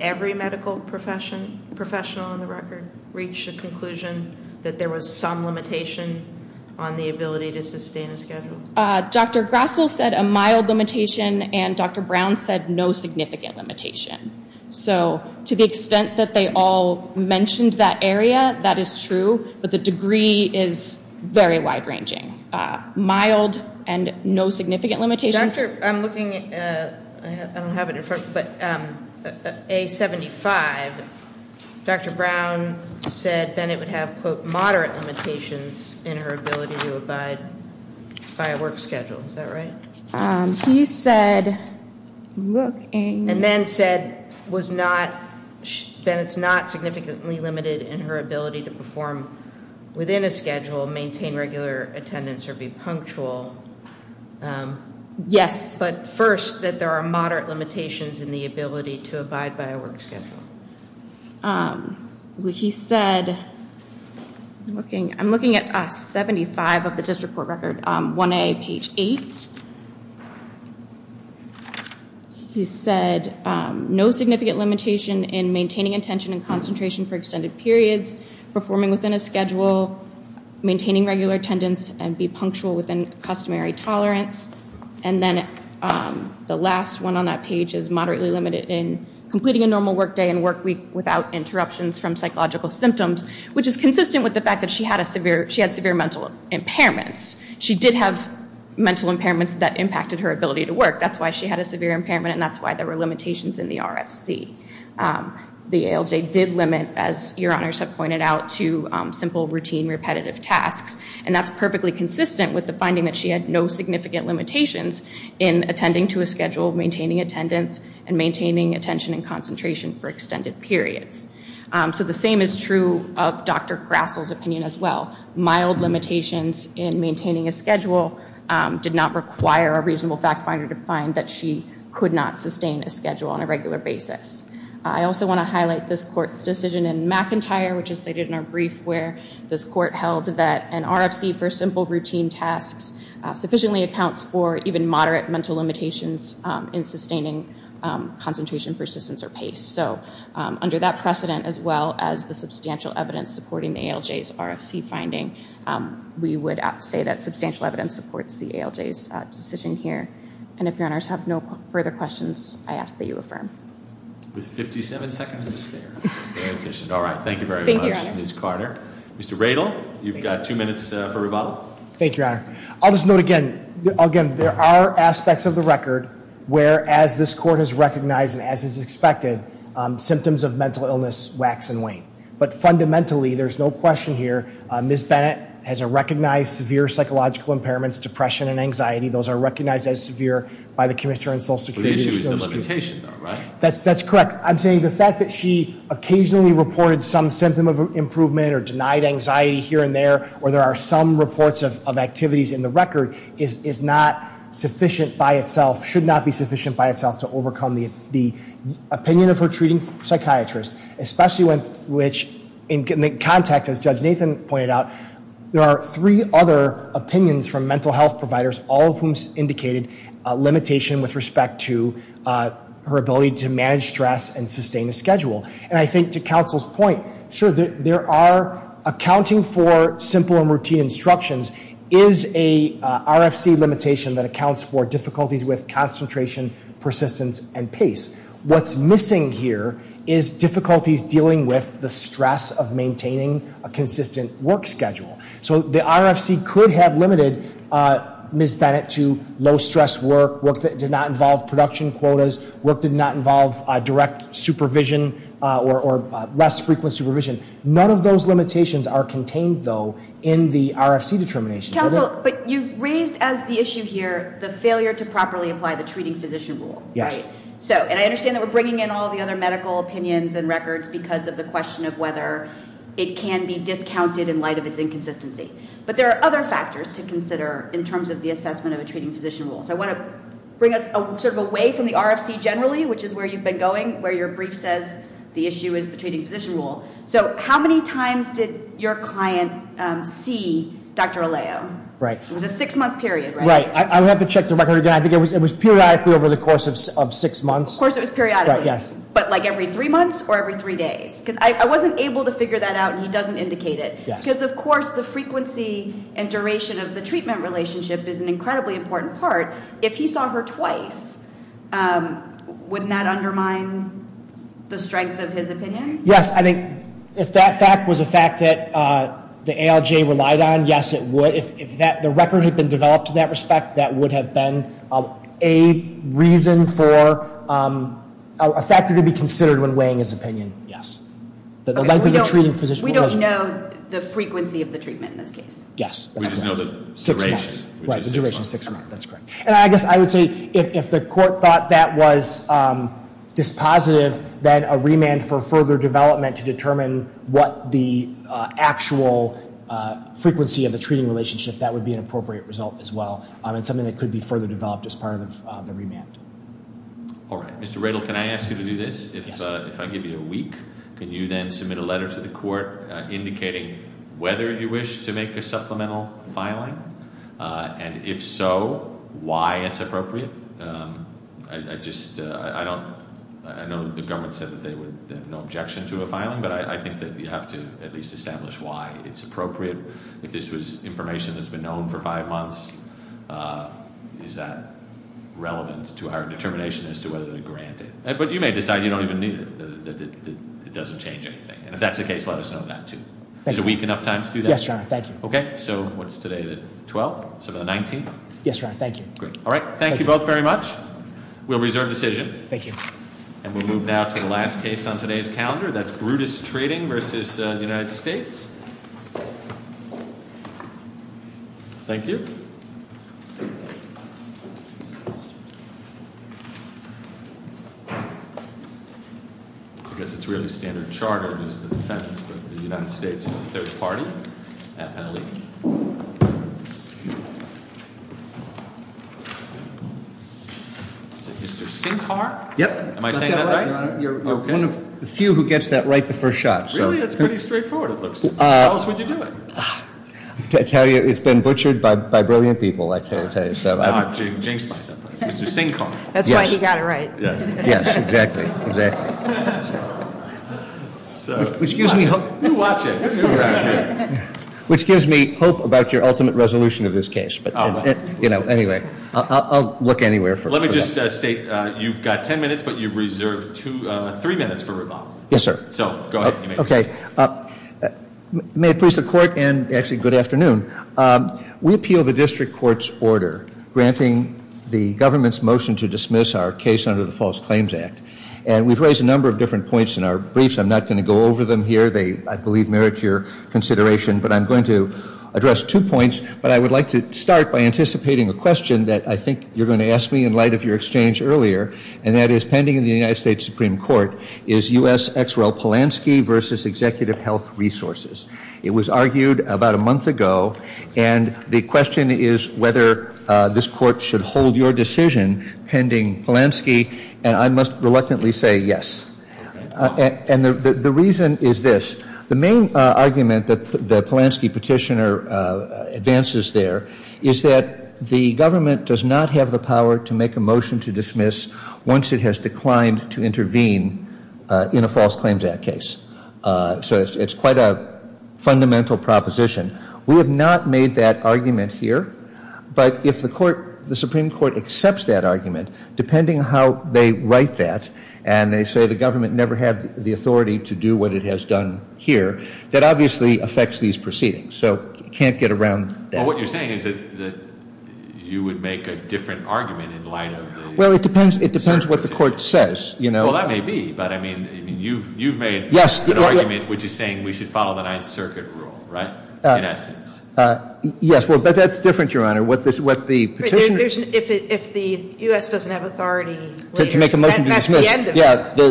every medical professional on the record reach the conclusion that there was some limitation on the ability to sustain a schedule? Dr. Grassl said a mild limitation, and Dr. Brown said no significant limitation. So, to the extent that they all mentioned that area, that is true, but the degree is very wide-ranging. Mild and no significant limitations. I'm looking at A75. Dr. Brown said Bennett would have, quote, moderate limitations in her ability to abide by a work schedule. Is that right? She said, look in- And then said it's not significantly limited in her ability to perform within a schedule, maintain regular attendance, or be punctual. Yes. But first, that there are moderate limitations in the ability to abide by a work schedule. She said, I'm looking at A75 of the district court record, 1A page 8. She said no significant limitation in maintaining attention and concentration for extended periods, performing within a schedule, maintaining regular attendance, and be punctual within customary tolerance. And then the last one on that page is moderately limited in completing a normal work day and work week without interruptions from psychological symptoms, which is consistent with the fact that she had severe mental impairments. She did have mental impairments that impacted her ability to work. That's why she had a severe impairment, and that's why there were limitations in the RFC. The ALJ did limit, as your honors have pointed out, to simple routine repetitive tasks, and that's perfectly consistent with the finding that she had no significant limitations in attending to a schedule, maintaining attendance, and maintaining attention and concentration for extended periods. So the same is true of Dr. Grassl's opinion as well. Mild limitations in maintaining a schedule did not require a reasonable fact finder to find that she could not sustain a schedule on a regular basis. I also want to highlight this court's decision in McIntyre, which is stated in our brief, where this court held that an RFC for simple routine tasks sufficiently accounts for even moderate mental limitations in sustaining concentration persistence or pace. So under that precedent, as well as the substantial evidence supporting the ALJ's RFC finding, we would say that substantial evidence supports the ALJ's decision here. And if your honors have no further questions, I ask that you affirm. With 57 seconds to spare. All right, thank you very much, Ms. Carter. Mr. Radl, you've got two minutes for rebuttal. Thank you, your honor. I'll just note again, there are aspects of the record where, as this court has recognized and as is expected, symptoms of mental illness wax and wane. But fundamentally, there's no question here, Ms. Bennett has a recognized severe psychological impairment, depression and anxiety. Those are recognized as severe by the Commissioner of Social Security. That's correct. I'm saying the fact that she occasionally reported some symptom of improvement or denied anxiety here and there, or there are some reports of activities in the record, is not sufficient by itself, should not be sufficient by itself, to overcome the opinion of her treating psychiatrists. Especially with which, in the context, as Judge Nathan pointed out, there are three other opinions from mental health providers, all of whom indicated a limitation with respect to her ability to manage stress and sustain a schedule. And I think, to counsel's point, there are accounting for simple and routine instructions is a RFC limitation that accounts for difficulties with concentration, persistence and pace. What's missing here is difficulties dealing with the stress of maintaining a consistent work schedule. So the RFC could have limited Ms. Bennett to low-stress work, work that did not involve production quotas, work that did not involve direct supervision or less frequent supervision. None of those limitations are contained, though, in the RFC determination. Counsel, but you've raised as the issue here the failure to properly apply the treating physician rule. Yes. And I understand that we're bringing in all the other medical opinions and records because of the question of whether it can be discounted in light of its inconsistency. But there are other factors to consider in terms of the assessment of the treating physician rule. So I want to bring us sort of away from the RFC generally, which is where you've been going, where your brief says the issue is the treating physician rule. So how many times did your client see Dr. Alejo? Right. It was a six-month period, right? Right. I have to check the record again. I think it was periodically over the course of six months. Of course it was periodically. But, like, every three months or every three days? Because I wasn't able to figure that out, and he doesn't indicate it. Because, of course, the frequency and duration of the treatment relationship is an incredibly important part. If he saw her twice, would that undermine the strength of his opinion? Yes. I think if that fact was a fact that the ALJ relied on, yes, it would. If the record had been developed in that respect, that would have been a reason for a factor to be considered when weighing his opinion. Yes. We don't know the frequency of the treatment in that case. Yes. We don't know the duration. Right. The duration is six months. That's correct. And I guess I would say if the court thought that was dispositive, then a remand for further development to determine what the actual frequency of the treatment relationship, that would be an appropriate result as well, and something that could be further developed as part of the remand. All right. Mr. Radl, can I ask you to do this? Yes. If I give you a week, can you then submit a letter to the court indicating whether you wish to make a supplemental filing? And if so, why it's appropriate? I know the government said that they have no objection to a filing, but I think that you have to at least establish why it's appropriate. If this information has been known for five months, is that relevant to our determination as to whether to grant it? But you may decide you don't even need it, that it doesn't change anything. And if that's the case, let us know that too. Is a week enough time to do that? Yes, Your Honor. Thank you. Okay. So what's today, the 12th? So the 19th? Yes, Your Honor. Thank you. All right. Thank you both very much. We'll reserve the decision. Thank you. And we'll move now to the last case on today's calendar. That's Brutus Treating v. The United States. Thank you. I guess it's really standard charter, United States third party. Yep. Few who gets that right the first shot. It's been butchered by brilliant people, I can tell you. That's why you got it right. Yes, exactly. Which gives me hope. Which gives me hope about your ultimate resolution of this case. But, you know, anyway, I'll look anywhere for it. Let me just state, you've got 10 minutes, but you've reserved three minutes for rebuttal. Yes, sir. Okay. May it please the court and actually good afternoon. We appeal the district court's order granting the government's motion to dismiss our case under the False Claims Act. And we've raised a number of different points in our briefs. I'm not going to go over them here. They, I believe, merit your consideration. But I'm going to address two points. But I would like to start by anticipating a question that I think you're going to ask me in light of your exchange earlier. And that is pending in the United States Supreme Court is U.S. X. Well, Polanski v. Executive Health Resources. It was argued about a month ago. And the question is whether this court should hold your decision pending Polanski. And I must reluctantly say yes. And the reason is this. The main argument that the Polanski petitioner advances there is that the government does not have the power to make a motion to dismiss once it has declined to intervene in a False Claims Act case. So it's quite a fundamental proposition. We have not made that argument here. But if the Supreme Court accepts that argument, depending on how they write that, and they say the government never had the authority to do what it has done here, that obviously affects these proceedings. So you can't get around that. Well, what you're saying is that you would make a different argument in light of. Well, it depends what the court says, you know. Well, that may be. But, I mean, you've made an argument which is saying we should follow the Ninth Circuit rule, right? In essence. Yes, well, but that's different, Your Honor. What the petitioner. If the U.S. doesn't have authority. To make a motion to dismiss.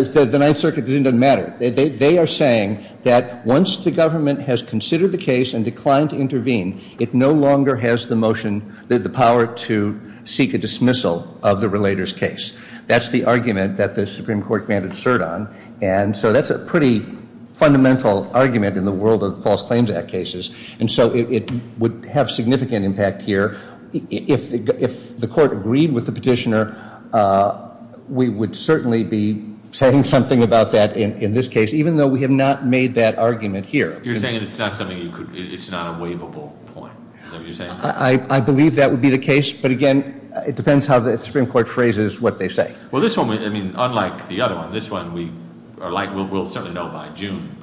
The Ninth Circuit doesn't even matter. They are saying that once the government has considered the case and declined to intervene, it no longer has the motion, the power to seek a dismissal of the relator's case. That's the argument that the Supreme Court can assert on. And so that's a pretty fundamental argument in the world of False Claims Act cases. And so it would have significant impact here. If the court agreed with the petitioner, we would certainly be saying something about that in this case, even though we have not made that argument here. You're saying it's not a waivable point, is that what you're saying? I believe that would be the case. But, again, it depends how the Supreme Court phrases what they say. Well, this one, I mean, unlike the other one, this one, we'll certainly know by June.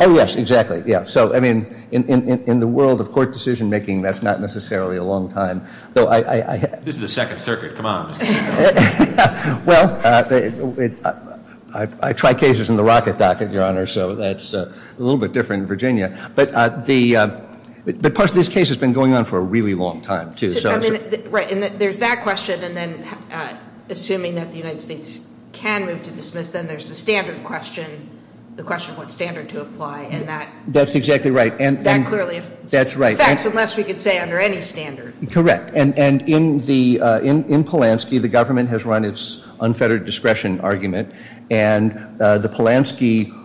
Oh, yes, exactly. So, I mean, in the world of court decision-making, that's not necessarily a long time. This is the Second Circuit. Come on. Well, I try cases in the Rocket Docket, Your Honor, so that's a little bit different in Virginia. But this case has been going on for a really long time, too. Right, and there's that question, and then assuming that the United States can move to dismiss, then there's the standard question, the question of what standard to apply. That's exactly right, and that's right. That's unless you could say under any standard. Correct, and in Polanski, the government has run its unfettered discretion argument, and the Polanski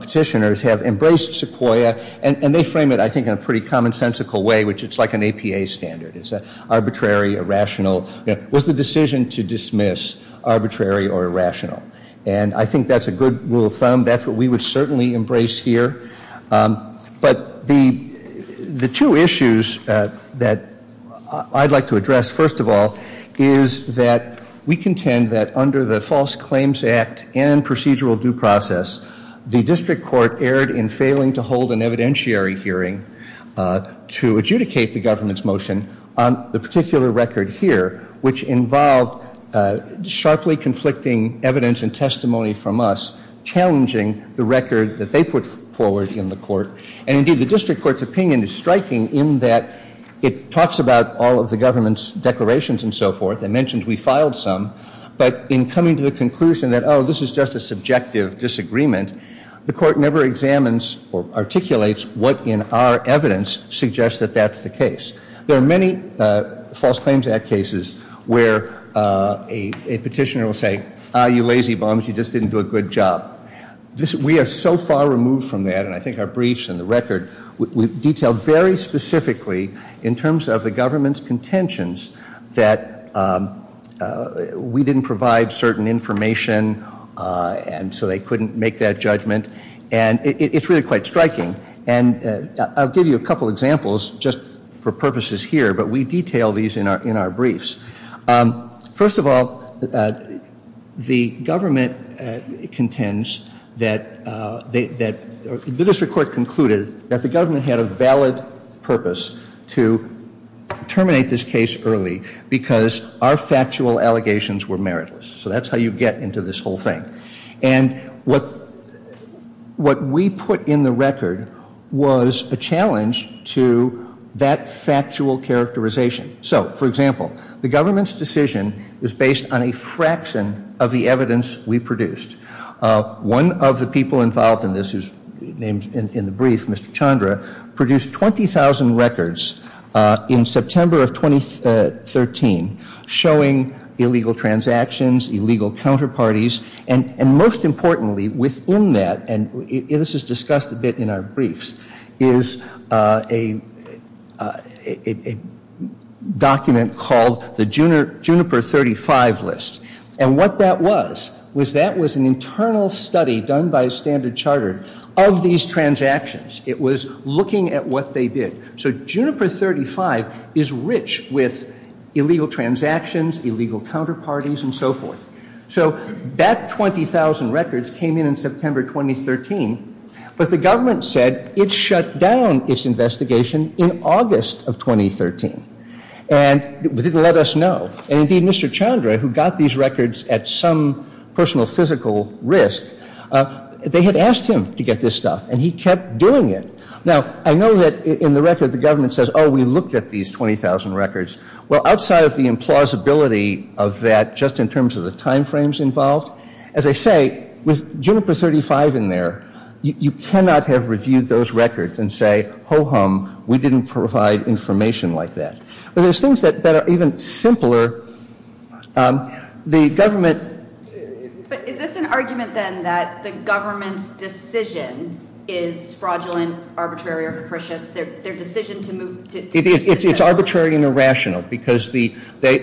petitioners have embraced Sequoyah, and they frame it, I think, in a pretty commonsensical way, which it's like an APA standard. It's arbitrary, irrational. It was the decision to dismiss arbitrary or irrational, and I think that's a good rule of thumb. That's what we would certainly embrace here. But the two issues that I'd like to address, first of all, is that we contend that under the False Claims Act and procedural due process, the district court erred in failing to hold an evidentiary hearing to adjudicate the government's motion on the particular record here, which involved sharply conflicting evidence and testimony from us, challenging the record that they put forward in the court. And indeed, the district court's opinion is striking in that it talks about all of the government's declarations and so forth, and mentions we filed some, but in coming to the conclusion that, oh, this is just a subjective disagreement, the court never examines or articulates what in our evidence suggests that that's the case. There are many False Claims Act cases where a petitioner will say, ah, you lazy bums, you just didn't do a good job. We are so far removed from that, and I think our briefs and the record detail very specifically in terms of the government's contentions that we didn't provide certain information, and so they couldn't make that judgment, and it's really quite striking. And I'll give you a couple examples just for purposes here, but we detail these in our briefs. First of all, the government contends that the district court concluded that the government had a valid purpose to terminate this case early because our factual allegations were meritless, so that's how you get into this whole thing. And what we put in the record was a challenge to that factual characterization. So, for example, the government's decision is based on a fraction of the evidence we produced. One of the people involved in this is named in the brief, Mr. Chandra, produced 20,000 records in September of 2013, showing illegal transactions, illegal counterparties, and most importantly within that, and this is discussed a bit in our briefs, is a document called the Juniper 35 list. And what that was, was that was an internal study done by a standard charter of these transactions. It was looking at what they did. So Juniper 35 is rich with illegal transactions, illegal counterparties, and so forth. So that 20,000 records came in in September 2013, but the government said it shut down its investigation in August of 2013. And it didn't let us know. And indeed, Mr. Chandra, who got these records at some personal physical risk, they had asked him to get this stuff, and he kept doing it. Now, I know that in the record, the government says, oh, we looked at these 20,000 records. Well, outside of the implausibility of that, just in terms of the time frames involved, as I say, with Juniper 35 in there, you cannot have reviewed those records and say, ho-hum, we didn't provide information like that. But there's things that are even simpler. But is this an argument, then, that the government's decision is fraudulent, arbitrary, or capricious? It's arbitrary and irrational, because their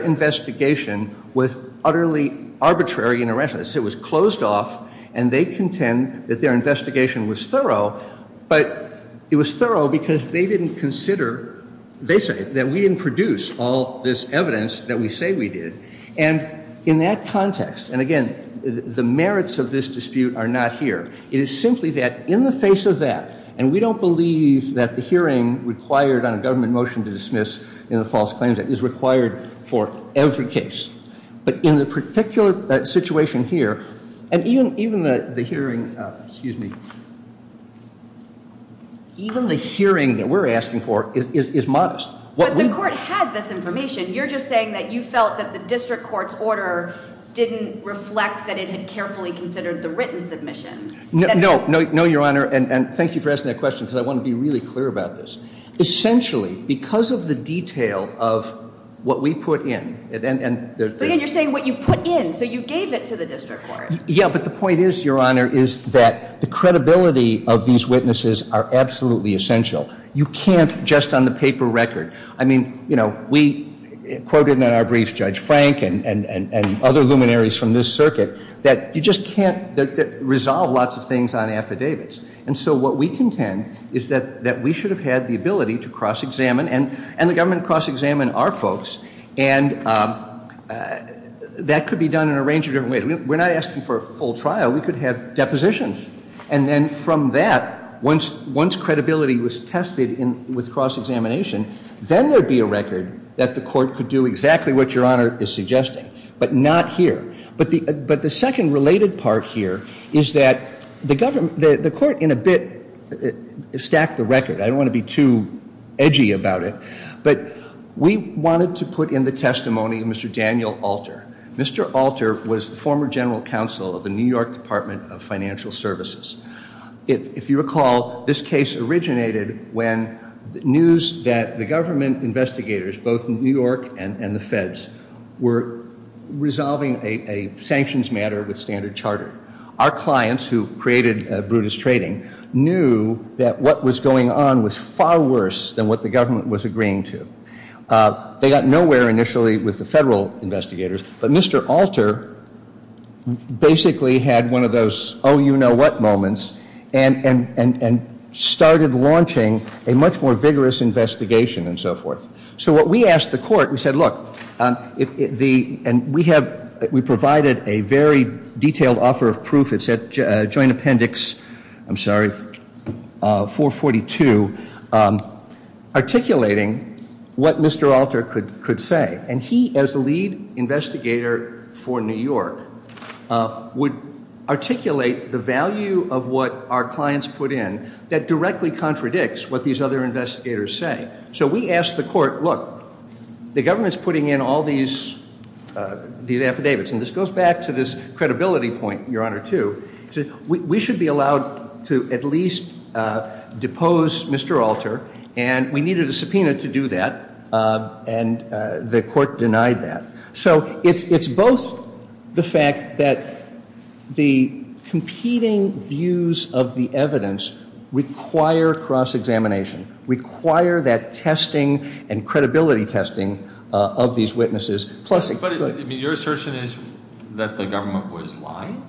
investigation was utterly arbitrary and irrational. It was closed off, and they contend that their investigation was thorough, but it was thorough because they didn't consider, basically, that we didn't produce all this evidence that we say we did. And in that context, and again, the merits of this dispute are not here. It is simply that in the face of that, and we don't believe that the hearing required on a government motion to dismiss in a false claim is required for every case. But in the particular situation here, and even the hearing that we're asking for is modest. But the court has this information. You're just saying that you felt that the district court's order didn't reflect that it had carefully considered the written submission. No, Your Honor, and thank you for asking that question, because I want to be really clear about this. Essentially, because of the detail of what we put in. And you're saying what you put in, so you gave it to the district court. Yeah, but the point is, Your Honor, is that the credibility of these witnesses are absolutely essential. You can't just on the paper record. I mean, you know, we quoted in our brief Judge Frank and other luminaries from this circuit that you just can't resolve lots of things on affidavits. And so what we contend is that we should have had the ability to cross-examine, and the government cross-examined our folks. And that could be done in a range of different ways. We're not asking for a full trial. We could have depositions. And then from that, once credibility was tested with cross-examination, then there would be a record that the court could do exactly what Your Honor is suggesting, but not here. But the second related part here is that the court, in a bit, stacked the record. I don't want to be too edgy about it. But we wanted to put in the testimony of Mr. Daniel Alter. Mr. Alter was former general counsel of the New York Department of Financial Services. If you recall, this case originated when news that the government investigators, both in New York and the feds, were resolving a sanctions matter with Standard Chartered. Our clients, who created Brutus Trading, knew that what was going on was far worse than what the government was agreeing to. They got nowhere initially with the federal investigators. But Mr. Alter basically had one of those oh-you-know-what moments and started launching a much more vigorous investigation and so forth. So what we asked the court, we said, look, and we provided a very detailed offer of proof. It said joint appendix, I'm sorry, 442, articulating what Mr. Alter could say. And he, as the lead investigator for New York, would articulate the value of what our clients put in that directly contradicts what these other investigators say. So we asked the court, look, the government is putting in all these affidavits. And this goes back to this credibility point, Your Honor, too. We should be allowed to at least depose Mr. Alter, and we needed a subpoena to do that, and the court denied that. So it's both the fact that the competing views of the evidence require cross-examination, require that testing and credibility testing of these witnesses. Your assertion is that the government was lying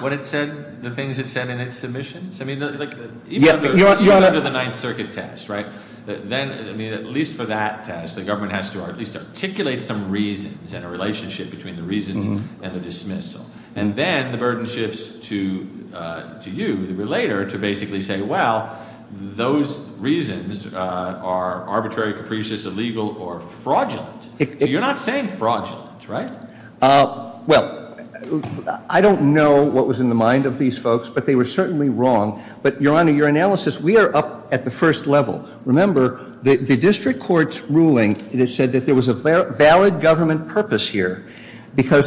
when it said the things it said in its submissions? Even the Ninth Circuit test, right? Then, at least for that test, the government has to at least articulate some reasons and a relationship between the reasoning and the dismissal. And then the burden shifts to you later to basically say, well, those reasons are arbitrary, capricious, illegal, or fraudulent. You're not saying fraudulent, right? Well, I don't know what was in the mind of these folks, but they were certainly wrong. But, Your Honor, your analysis, we are up at the first level. Remember, the district court's ruling said that there was a valid government purpose here. And what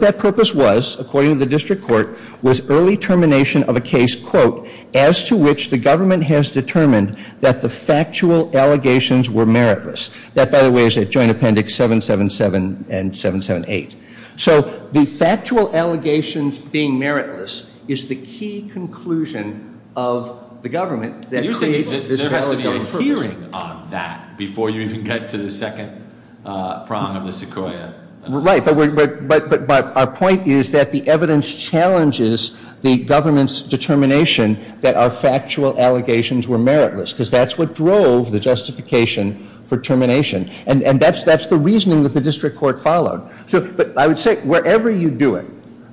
that purpose was, according to the district court, was early termination of a case, quote, as to which the government has determined that the factual allegations were meritless. That, by the way, is at Joint Appendix 777 and 778. So the factual allegations being meritless is the key conclusion of the government. There has to be a hearing on that before you can get to the second prong of this accord. Right, but our point is that the evidence challenges the government's determination that our factual allegations were meritless, because that's what drove the justification for termination. And that's the reasoning that the district court followed. But I would say, wherever you do it,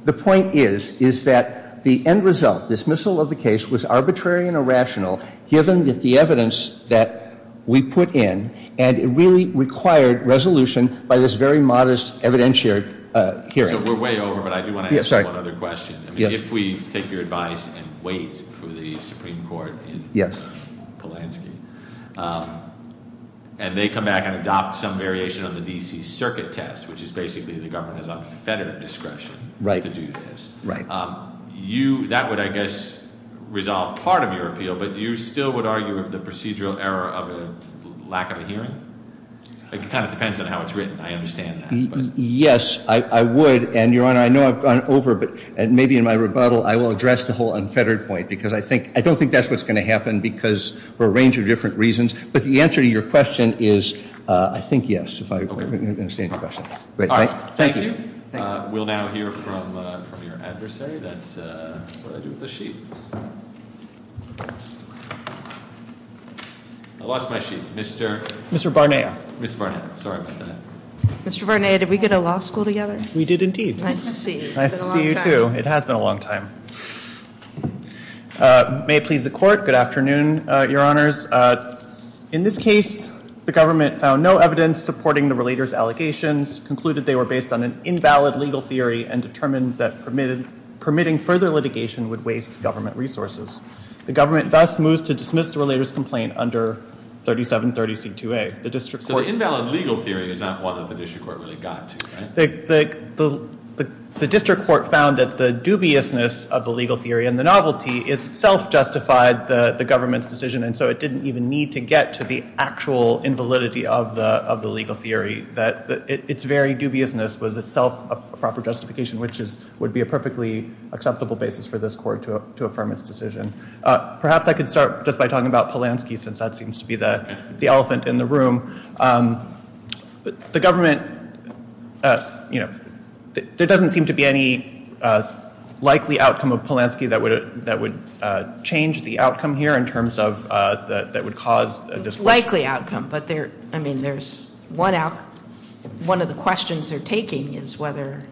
the point is that the end result, the dismissal of the case, was arbitrary and irrational, given the evidence that we put in. And it really required resolution by this very modest evidentiary hearing. We're way over, but I do want to ask one other question. If we think you're advised to wait for the Supreme Court in Polanski, and they come back and adopt some variation of the D.C. Circuit Test, which is basically the government's unfettered discretion to do this, that would, I guess, resolve part of your appeal. But you still would argue of the procedural error of a lack of a hearing? It kind of depends on how it's written, I understand that. Yes, I would. And, Your Honor, I know I've gone over, but maybe in my rebuttal I will address the whole unfettered point, because I don't think that's what's going to happen for a range of different reasons. But the answer to your question is, I think, yes, if I understand your question. Thank you. We'll now hear from your adversary. That's the sheet. I lost my sheet. Mr. Barnea. Mr. Barnea. Sorry. Mr. Barnea, did we go to law school together? We did, indeed. Nice to see you. Nice to see you, too. It has been a long time. May it please the Court, good afternoon, Your Honors. In this case, the government found no evidence supporting the relator's allegations, concluded they were based on an invalid legal theory, and determined that permitting further litigation would waste government resources. The government thus moved to dismiss the relator's complaint under 3730C2A. The district court The invalid legal theory is not what the fiduciary court really got to. The district court found that the dubiousness of the legal theory and the novelty itself justified the government's decision, and so it didn't even need to get to the actual invalidity of the legal theory. Its very dubiousness was itself a proper justification, which would be a perfectly acceptable basis for this court to affirm its decision. Perhaps I could start just by talking about Polanski, since that seems to be the elephant in the room. The government, you know, likely outcome of Polanski that would change the outcome here in terms of that would cause a disruption. Likely outcome, but there's one of the questions they're taking is whether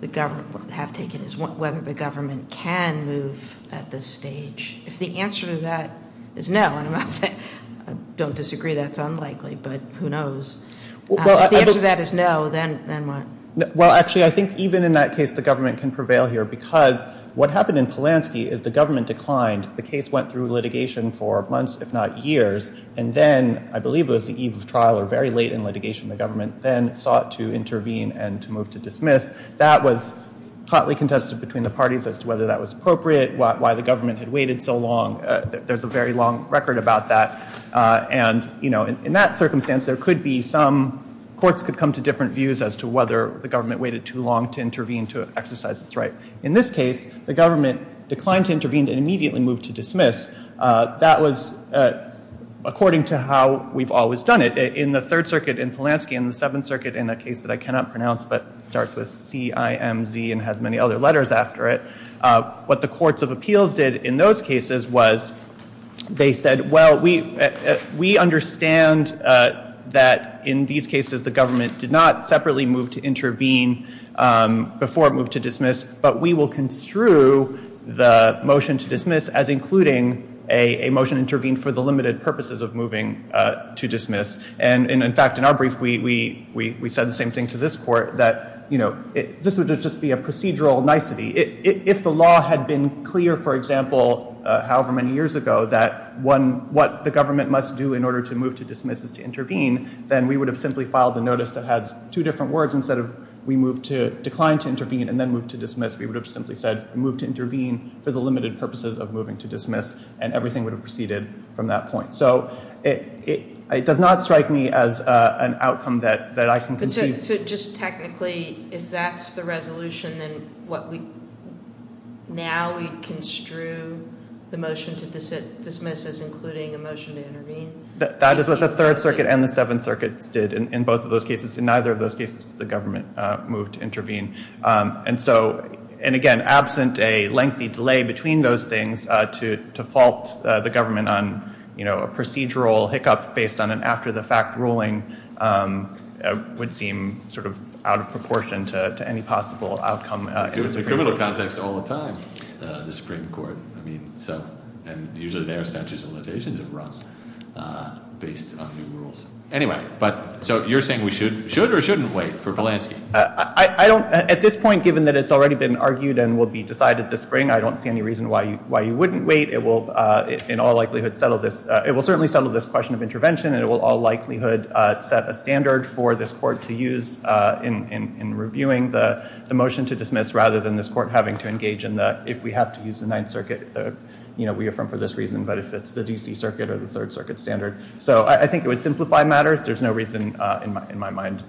the government can move at this stage. If the answer to that is no, and I don't disagree that's unlikely, but who knows. If the answer to that is no, then what? Well, actually, I think even in that case, the government can prevail here because what happened in Polanski is the government declined. The case went through litigation for months, if not years, and then I believe it was the eve of trial or very late in litigation. The government then sought to intervene and to move to dismiss. That was tightly contested between the parties as to whether that was appropriate, why the government had waited so long. There's a very long record about that. And, you know, in that circumstance, there could be some courts could come to different views as to whether the government waited too long to intervene, to exercise its right. In this case, the government declined to intervene and immediately moved to dismiss. That was according to how we've always done it in the third circuit in Polanski and the seventh circuit in that case that I cannot pronounce, but starts with CIMZ and has many other letters after it. What the courts of appeals did in those cases was they said, well, we understand that in these cases, the government did not separately move to intervene before it moved to dismiss, but we will construe the motion to dismiss as including a motion intervened for the limited purposes of moving to dismiss. And in fact, in our brief, we said the same thing to this court that, you know, this would just be a procedural nicety. If the law had been clear, for example, however many years ago, that one, what the government must do in order to move to dismiss is to intervene. Then we would have simply filed a notice that has two different words instead of we moved to decline to intervene and then move to dismiss. We would have simply said, move to intervene for the limited purposes of moving to dismiss and everything would have proceeded from that point. So it does not strike me as an outcome that I can conceive. Just technically, if that's the resolution, then what we, now we construe the motion to dismiss as including a motion to intervene. That is what the third circuit and the seventh circuit did in both of those cases. In neither of those cases, the government moved to intervene. And so, and again, absent a lengthy delay between those things to default the government on, you know, a procedural hiccup based on an after the fact ruling would seem sort of disproportionate to any possible outcome. It's a little context all the time. The Supreme Court, I mean, and usually their statutes and legislations have run based on the rules. Anyway, but so you're saying we should, should or shouldn't wait for Polanski. I don't at this point, given that it's already been argued and will be decided this spring, I don't see any reason why you, why you wouldn't wait. It will in all likelihood settle this. It will certainly settle this question of intervention and it will all result in reviewing the motion to dismiss rather than this court having to engage in the, if we have to use the ninth circuit, you know, reaffirm for this reason, but if it's the DC circuit or the third circuit standard. So I think it would simplify matters. There's no reason in my, in my mind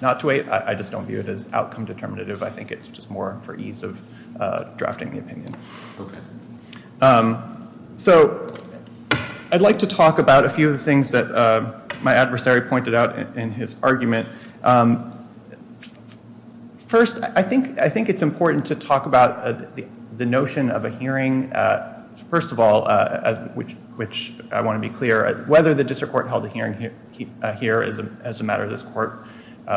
not to wait. I just don't view it as outcome determinative. I think it's just more for ease of drafting the opinion. So I'd like to talk about a few things that my adversary pointed out in his First, I think, I think it's important to talk about the notion of a hearing. First of all, which, which I want to be clear as whether the district court held a hearing here, here is as a matter of this court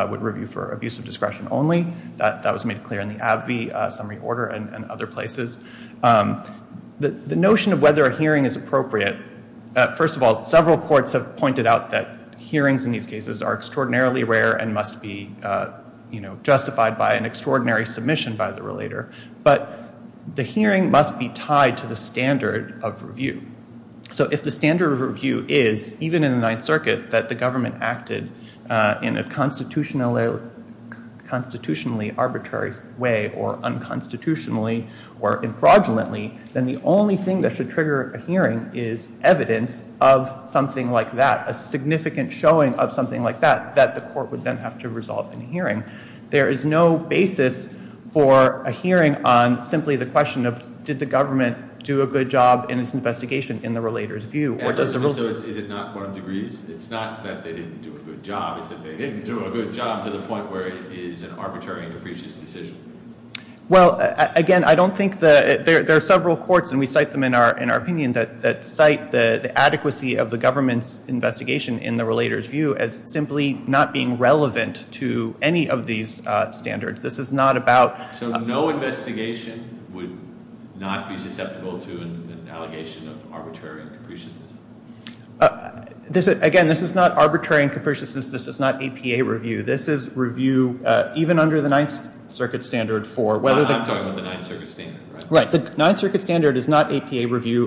would review for abuse of discretion only that that was made clear in the abbey summary order and other places. The notion of whether a hearing is appropriate. First of all, several courts have pointed out that hearings in these cases are You know, justified by an extraordinary submission by the relator, but the hearing must be tied to the standard of review. So if the standard of review is even in the ninth circuit, that the government acted in a constitutional, constitutionally arbitrary way or unconstitutionally or fraudulently, then the only thing that should trigger a hearing is evidence of something like that, a significant showing of something like that, that the court would then have to result in hearing. There is no basis for a hearing on simply the question of, did the government do a good job in its investigation in the relator's view or does the. Is it not one degree? It's not that they didn't do a good job. They didn't do a good job to the point where it is an arbitrary and capricious decision. Well, again, I don't think that there are several courts and we cite them in our, in our opinion that, that cite the adequacy of the government's investigation in the relator's view as simply not being relevant to any of these standards. This is not about, so no investigation would not be susceptible to an allegation of arbitrary and capricious. This again, this is not arbitrary and capricious. This, this is not APA review. This is review even under the ninth circuit standard for whether the ninth circuit standard is not APA review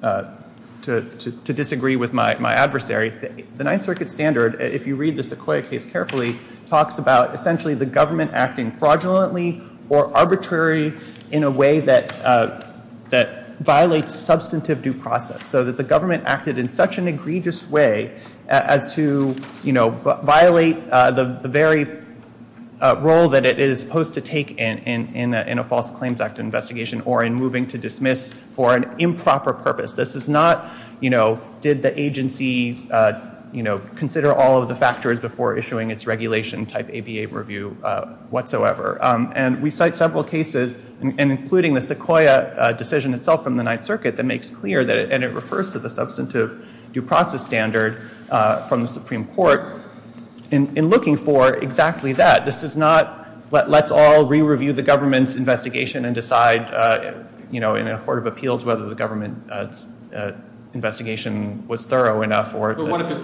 to, to disagree with my, my adversary. The ninth circuit standard, if you read this clear case carefully talks about essentially the government acting fraudulently or arbitrary in a way that that violates substantive due process. So that the government acted in such an egregious way as to, you know, violate the very role that it is supposed to take in, in, in a false claims act investigation or in moving to dismiss for an improper purpose. This is not, you know, did the agency you know, consider all of the factors before issuing its regulation type APA review whatsoever. And we cite several cases and including the Sequoia decision itself in the ninth circuit that makes clear that, and it refers to the substantive due process standard from the Supreme Court in, in looking for exactly that this is not, but let's all re-review the government's investigation and decide, you know, In a court of appeals, whether the government investigation was thorough enough or Well,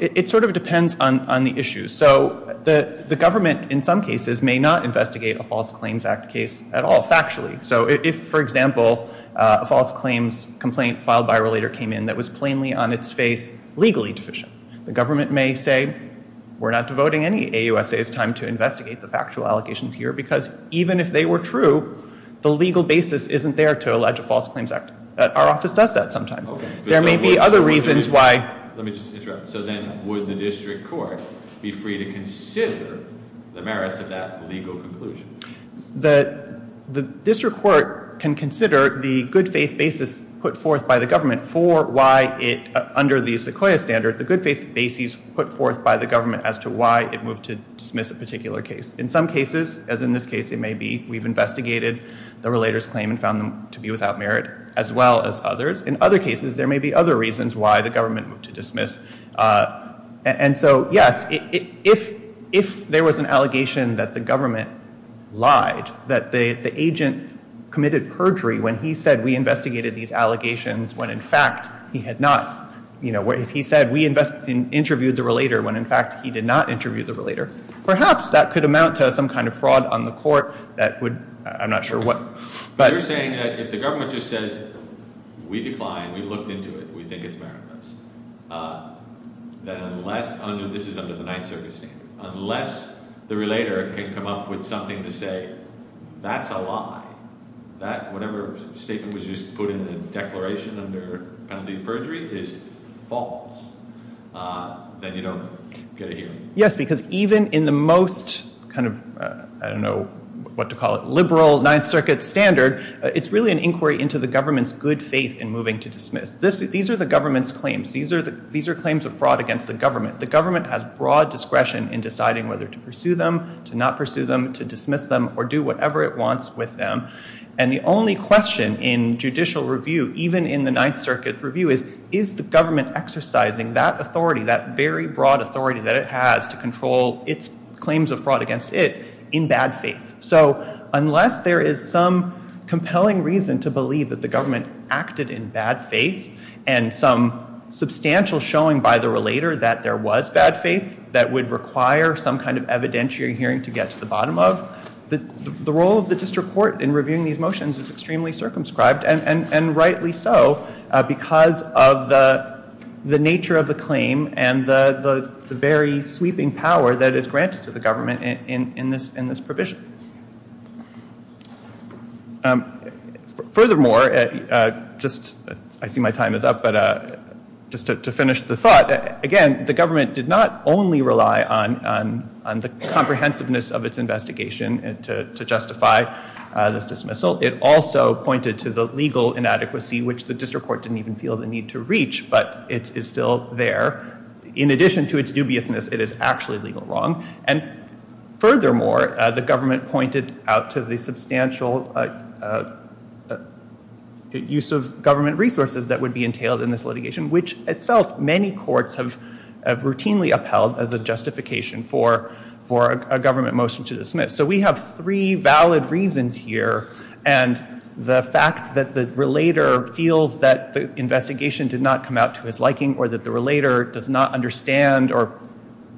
it sort of depends on, on the issues. So the, the government in some cases may not investigate a false claims act case at all factually. So if, for example, a false claims complaint filed by a relator came in, that was plainly on its face, legally deficient, the government may say, we're not devoting any AUSA's time to investigate the factual allegations here, because even if they were true, the legal basis, isn't there to allege a false claims act. Our office does that sometimes. There may be other reasons why Let me just interrupt. So then would the district court be free to consider the merits of that legal conclusion? The, the district court can consider the good faith basis put forth by the government for why it's under the Sequoia standard, the good faith basis put forth by the government as to why it moved to dismiss a particular case. In some cases, as in this case, it may be, we've investigated the relators claim and found them to be without merit as well as others. In other cases, there may be other reasons why the government moved to dismiss. And so, yes, if, if, if there was an allegation that the government lied, that they, the agent committed perjury when he said we investigated these allegations when in fact he had not, you know, where he said we invest in interviewed the relator when in fact he did not interview the relator, perhaps that could amount to some kind of fraud on the court. That would, I'm not sure what, but you're saying that if the government just says, we defined, we looked into it. We think it's, uh, then unless this is under the ninth service, unless the relator can come up with something to say, that's a lie that whatever statement was just put in the declaration of the perjury is false. Uh, then you don't get a hearing. Yes. Because even in the most kind of, uh, I don't know what to call it. Liberal ninth circuit standard. It's really an inquiry into the government's good faith in moving to dismiss this. These are the government's claims. These are the, these are claims of fraud against the government. The government has broad discretion in deciding whether to pursue them, to not pursue them, to dismiss them or do whatever it wants with them. And the only question in judicial review, even in the ninth circuit review is, is the government exercising that authority, that very broad authority that it has to control its claims of fraud against it in bad faith. So unless there is some compelling reason to believe that the government acted in bad faith and some substantial showing by the relator that there was bad faith that would require some kind of evidentiary hearing to get to the bottom of the, the role of the district court in reviewing these motions is extremely circumscribed. And rightly so because of the, the nature of the claim and the, the very sweeping power that is granted to the government in, in this, in this provision furthermore, just, I see my time is up, but just to finish the thought again, the government did not only rely on, on the comprehensiveness of its investigation and to, to justify the dismissal. It also pointed to the legal inadequacy, which the district court didn't even feel the need to reach, but it is still there. In addition to its dubiousness, it is actually legal wrong. And furthermore, the government pointed out to the substantial use of government resources that would be entailed in this litigation, which itself many courts have routinely upheld as a justification for, for a government motion to dismiss. So we have three valid reasons here. And the fact that the relator feels that the investigation did not come out to his liking or that the relator does not understand or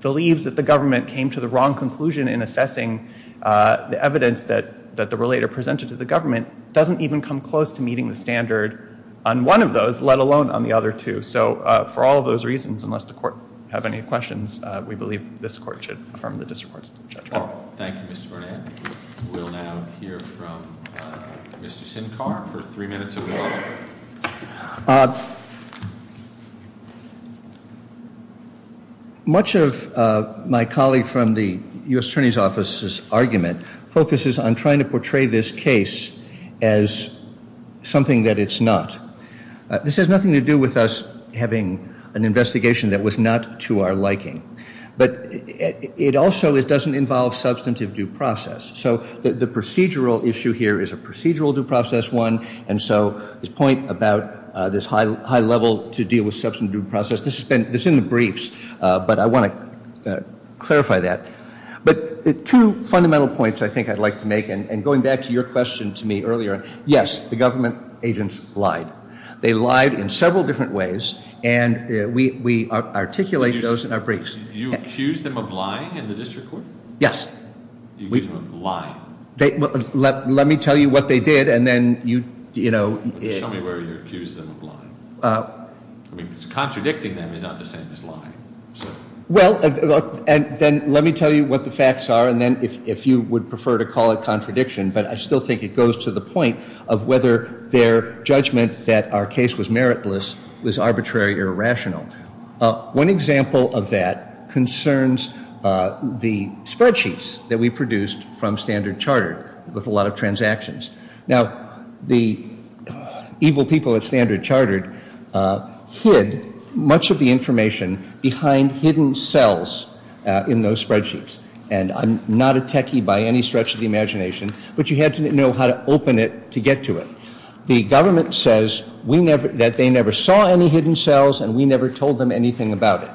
believes that the government came to the wrong conclusion in assessing the evidence that, that the relator presented to the government doesn't even come close to meeting the standard on one of those, let alone on the other two. So for all of those reasons, unless the court have any questions, we believe this court should affirm the discourse. Much of my colleague from the U.S. attorney's office's argument focuses on trying to portray this case as something that it's not. This has nothing to do with us having an investigation that was not to our liking, but it also, it doesn't involve substantive due process. So the procedural issue here is a procedural due process one. And so this point about this high, high level to deal with substantive due process, this has been, this is in the briefs, but I want to clarify that. But the two fundamental points I think I'd like to make, and going back to your question to me earlier, yes, the government agents lied. They lied in several different ways and we articulate those in our briefs. You accused them of lying in the district court? Yes. You accused them of lying. Let me tell you what they did and then you, you know. Tell me where you accused them of lying. I mean, it's contradicting that they're not the same as lying. Well, and then let me tell you what the facts are. And then if you would prefer to call it contradiction, but I still think it goes to the point of whether their judgment that our case was meritless was arbitrary or rational. One example of that concerns the spreadsheets that we produced from Standard Chartered with a lot of transactions. Now, the evil people at Standard Chartered hid much of the information behind hidden cells in those spreadsheets. And I'm not a techie by any stretch of the imagination, but you have to know how to open it to get to it. The government says that they never saw any hidden cells and we never told them anything about it.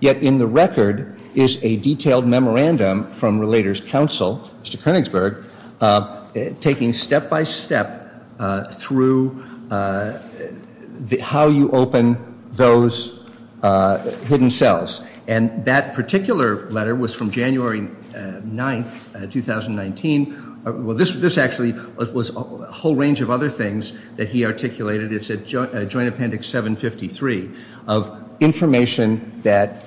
Yet in the record is a detailed memorandum from Relators Council, Mr. Koenigsberg, taking step by step through how you open those hidden cells. And that particular letter was from January 9th, 2019. Well, this actually was a whole range of other things that he articulated. It said Joint Appendix 753 of information that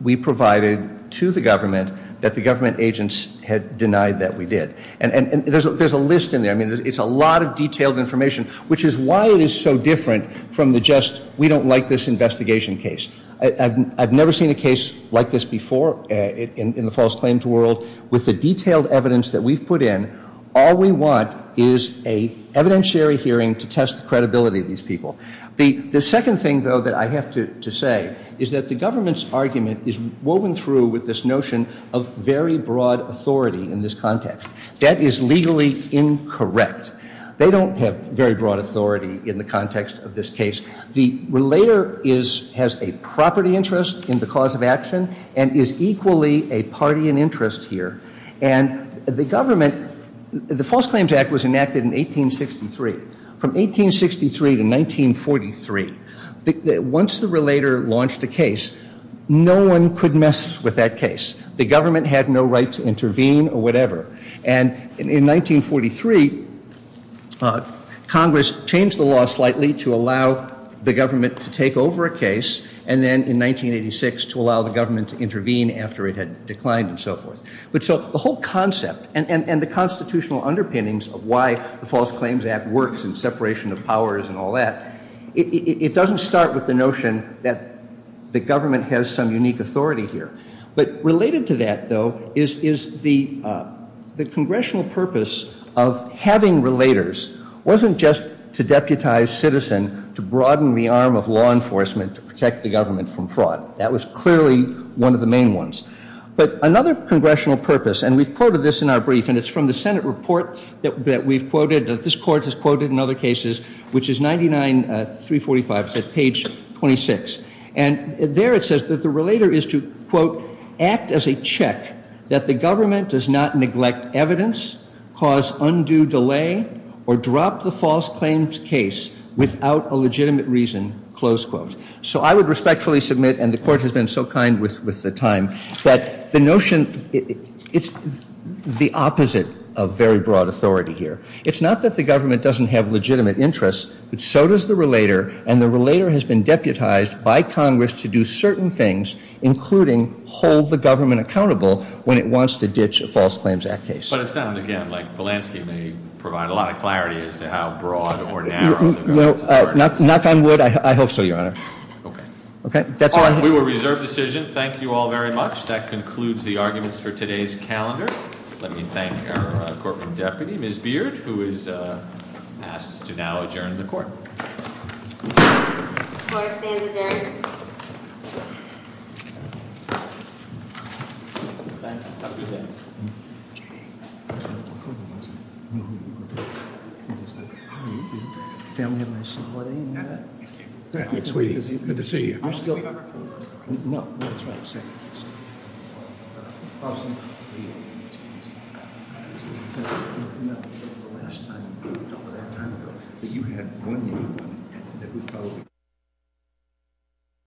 we provided to the government that the government agents had denied that we did. And there's a list in there. I mean, it's a lot of detailed information, which is why it is so different from the just we don't like this investigation case. I've never seen a case like this before in the false claims world with the detailed evidence that we've put in. All we want is a evidentiary hearing to test the credibility of these people. The second thing, though, that I have to say is that the government's argument is woven through with this notion of very broad authority in this context. That is legally incorrect. They don't have very broad authority in the context of this case. The relator has a property interest in the cause of action and is equally a party in interest here. And the government, the False Claims Act was enacted in 1863. From 1863 to 1943, once the relator launched a case, no one could mess with that case. The government had no right to intervene or whatever. And in 1943, Congress changed the law slightly to allow the government to take over a case and then in 1986 to allow the government to intervene after it had declined and so forth. But so the whole concept and the constitutional underpinnings of why the False Claims Act works and separation of powers and all that, it doesn't start with the notion that the government has some unique authority here. But related to that, though, is the congressional purpose of having relators wasn't just to deputize citizens, to broaden the arm of law enforcement, to protect the government from fraud. That was clearly one of the main ones. But another congressional purpose, and we've quoted this in our brief, and it's from the Senate report that we've quoted, that this court has quoted in other cases, which is 99-345, page 26. And there it says that the relator is to, quote, act as a check that the government does not neglect evidence, cause undue delay, or drop the false claims case without a legitimate reason, close quote. So I would respectfully submit, and the court has been so kind with the time, that the notion, it's the opposite of very broad authority here. It's not that the government doesn't have legitimate interests, but so does the relator, and the relator has been deputized by Congress to do certain things, including hold the government accountable when it wants to ditch a False Claims Act case. But it sounds, again, like the landscape may provide a lot of clarity as to how broad or narrow. Not that I would. I hope so, Your Honor. Okay. We will reserve the decision. Thank you all very much. That concludes the arguments for today's calendar. Let me thank our Corporal Deputy, Ms. Beard, who is asked to now adjourn the court. Court is adjourned. Thank you.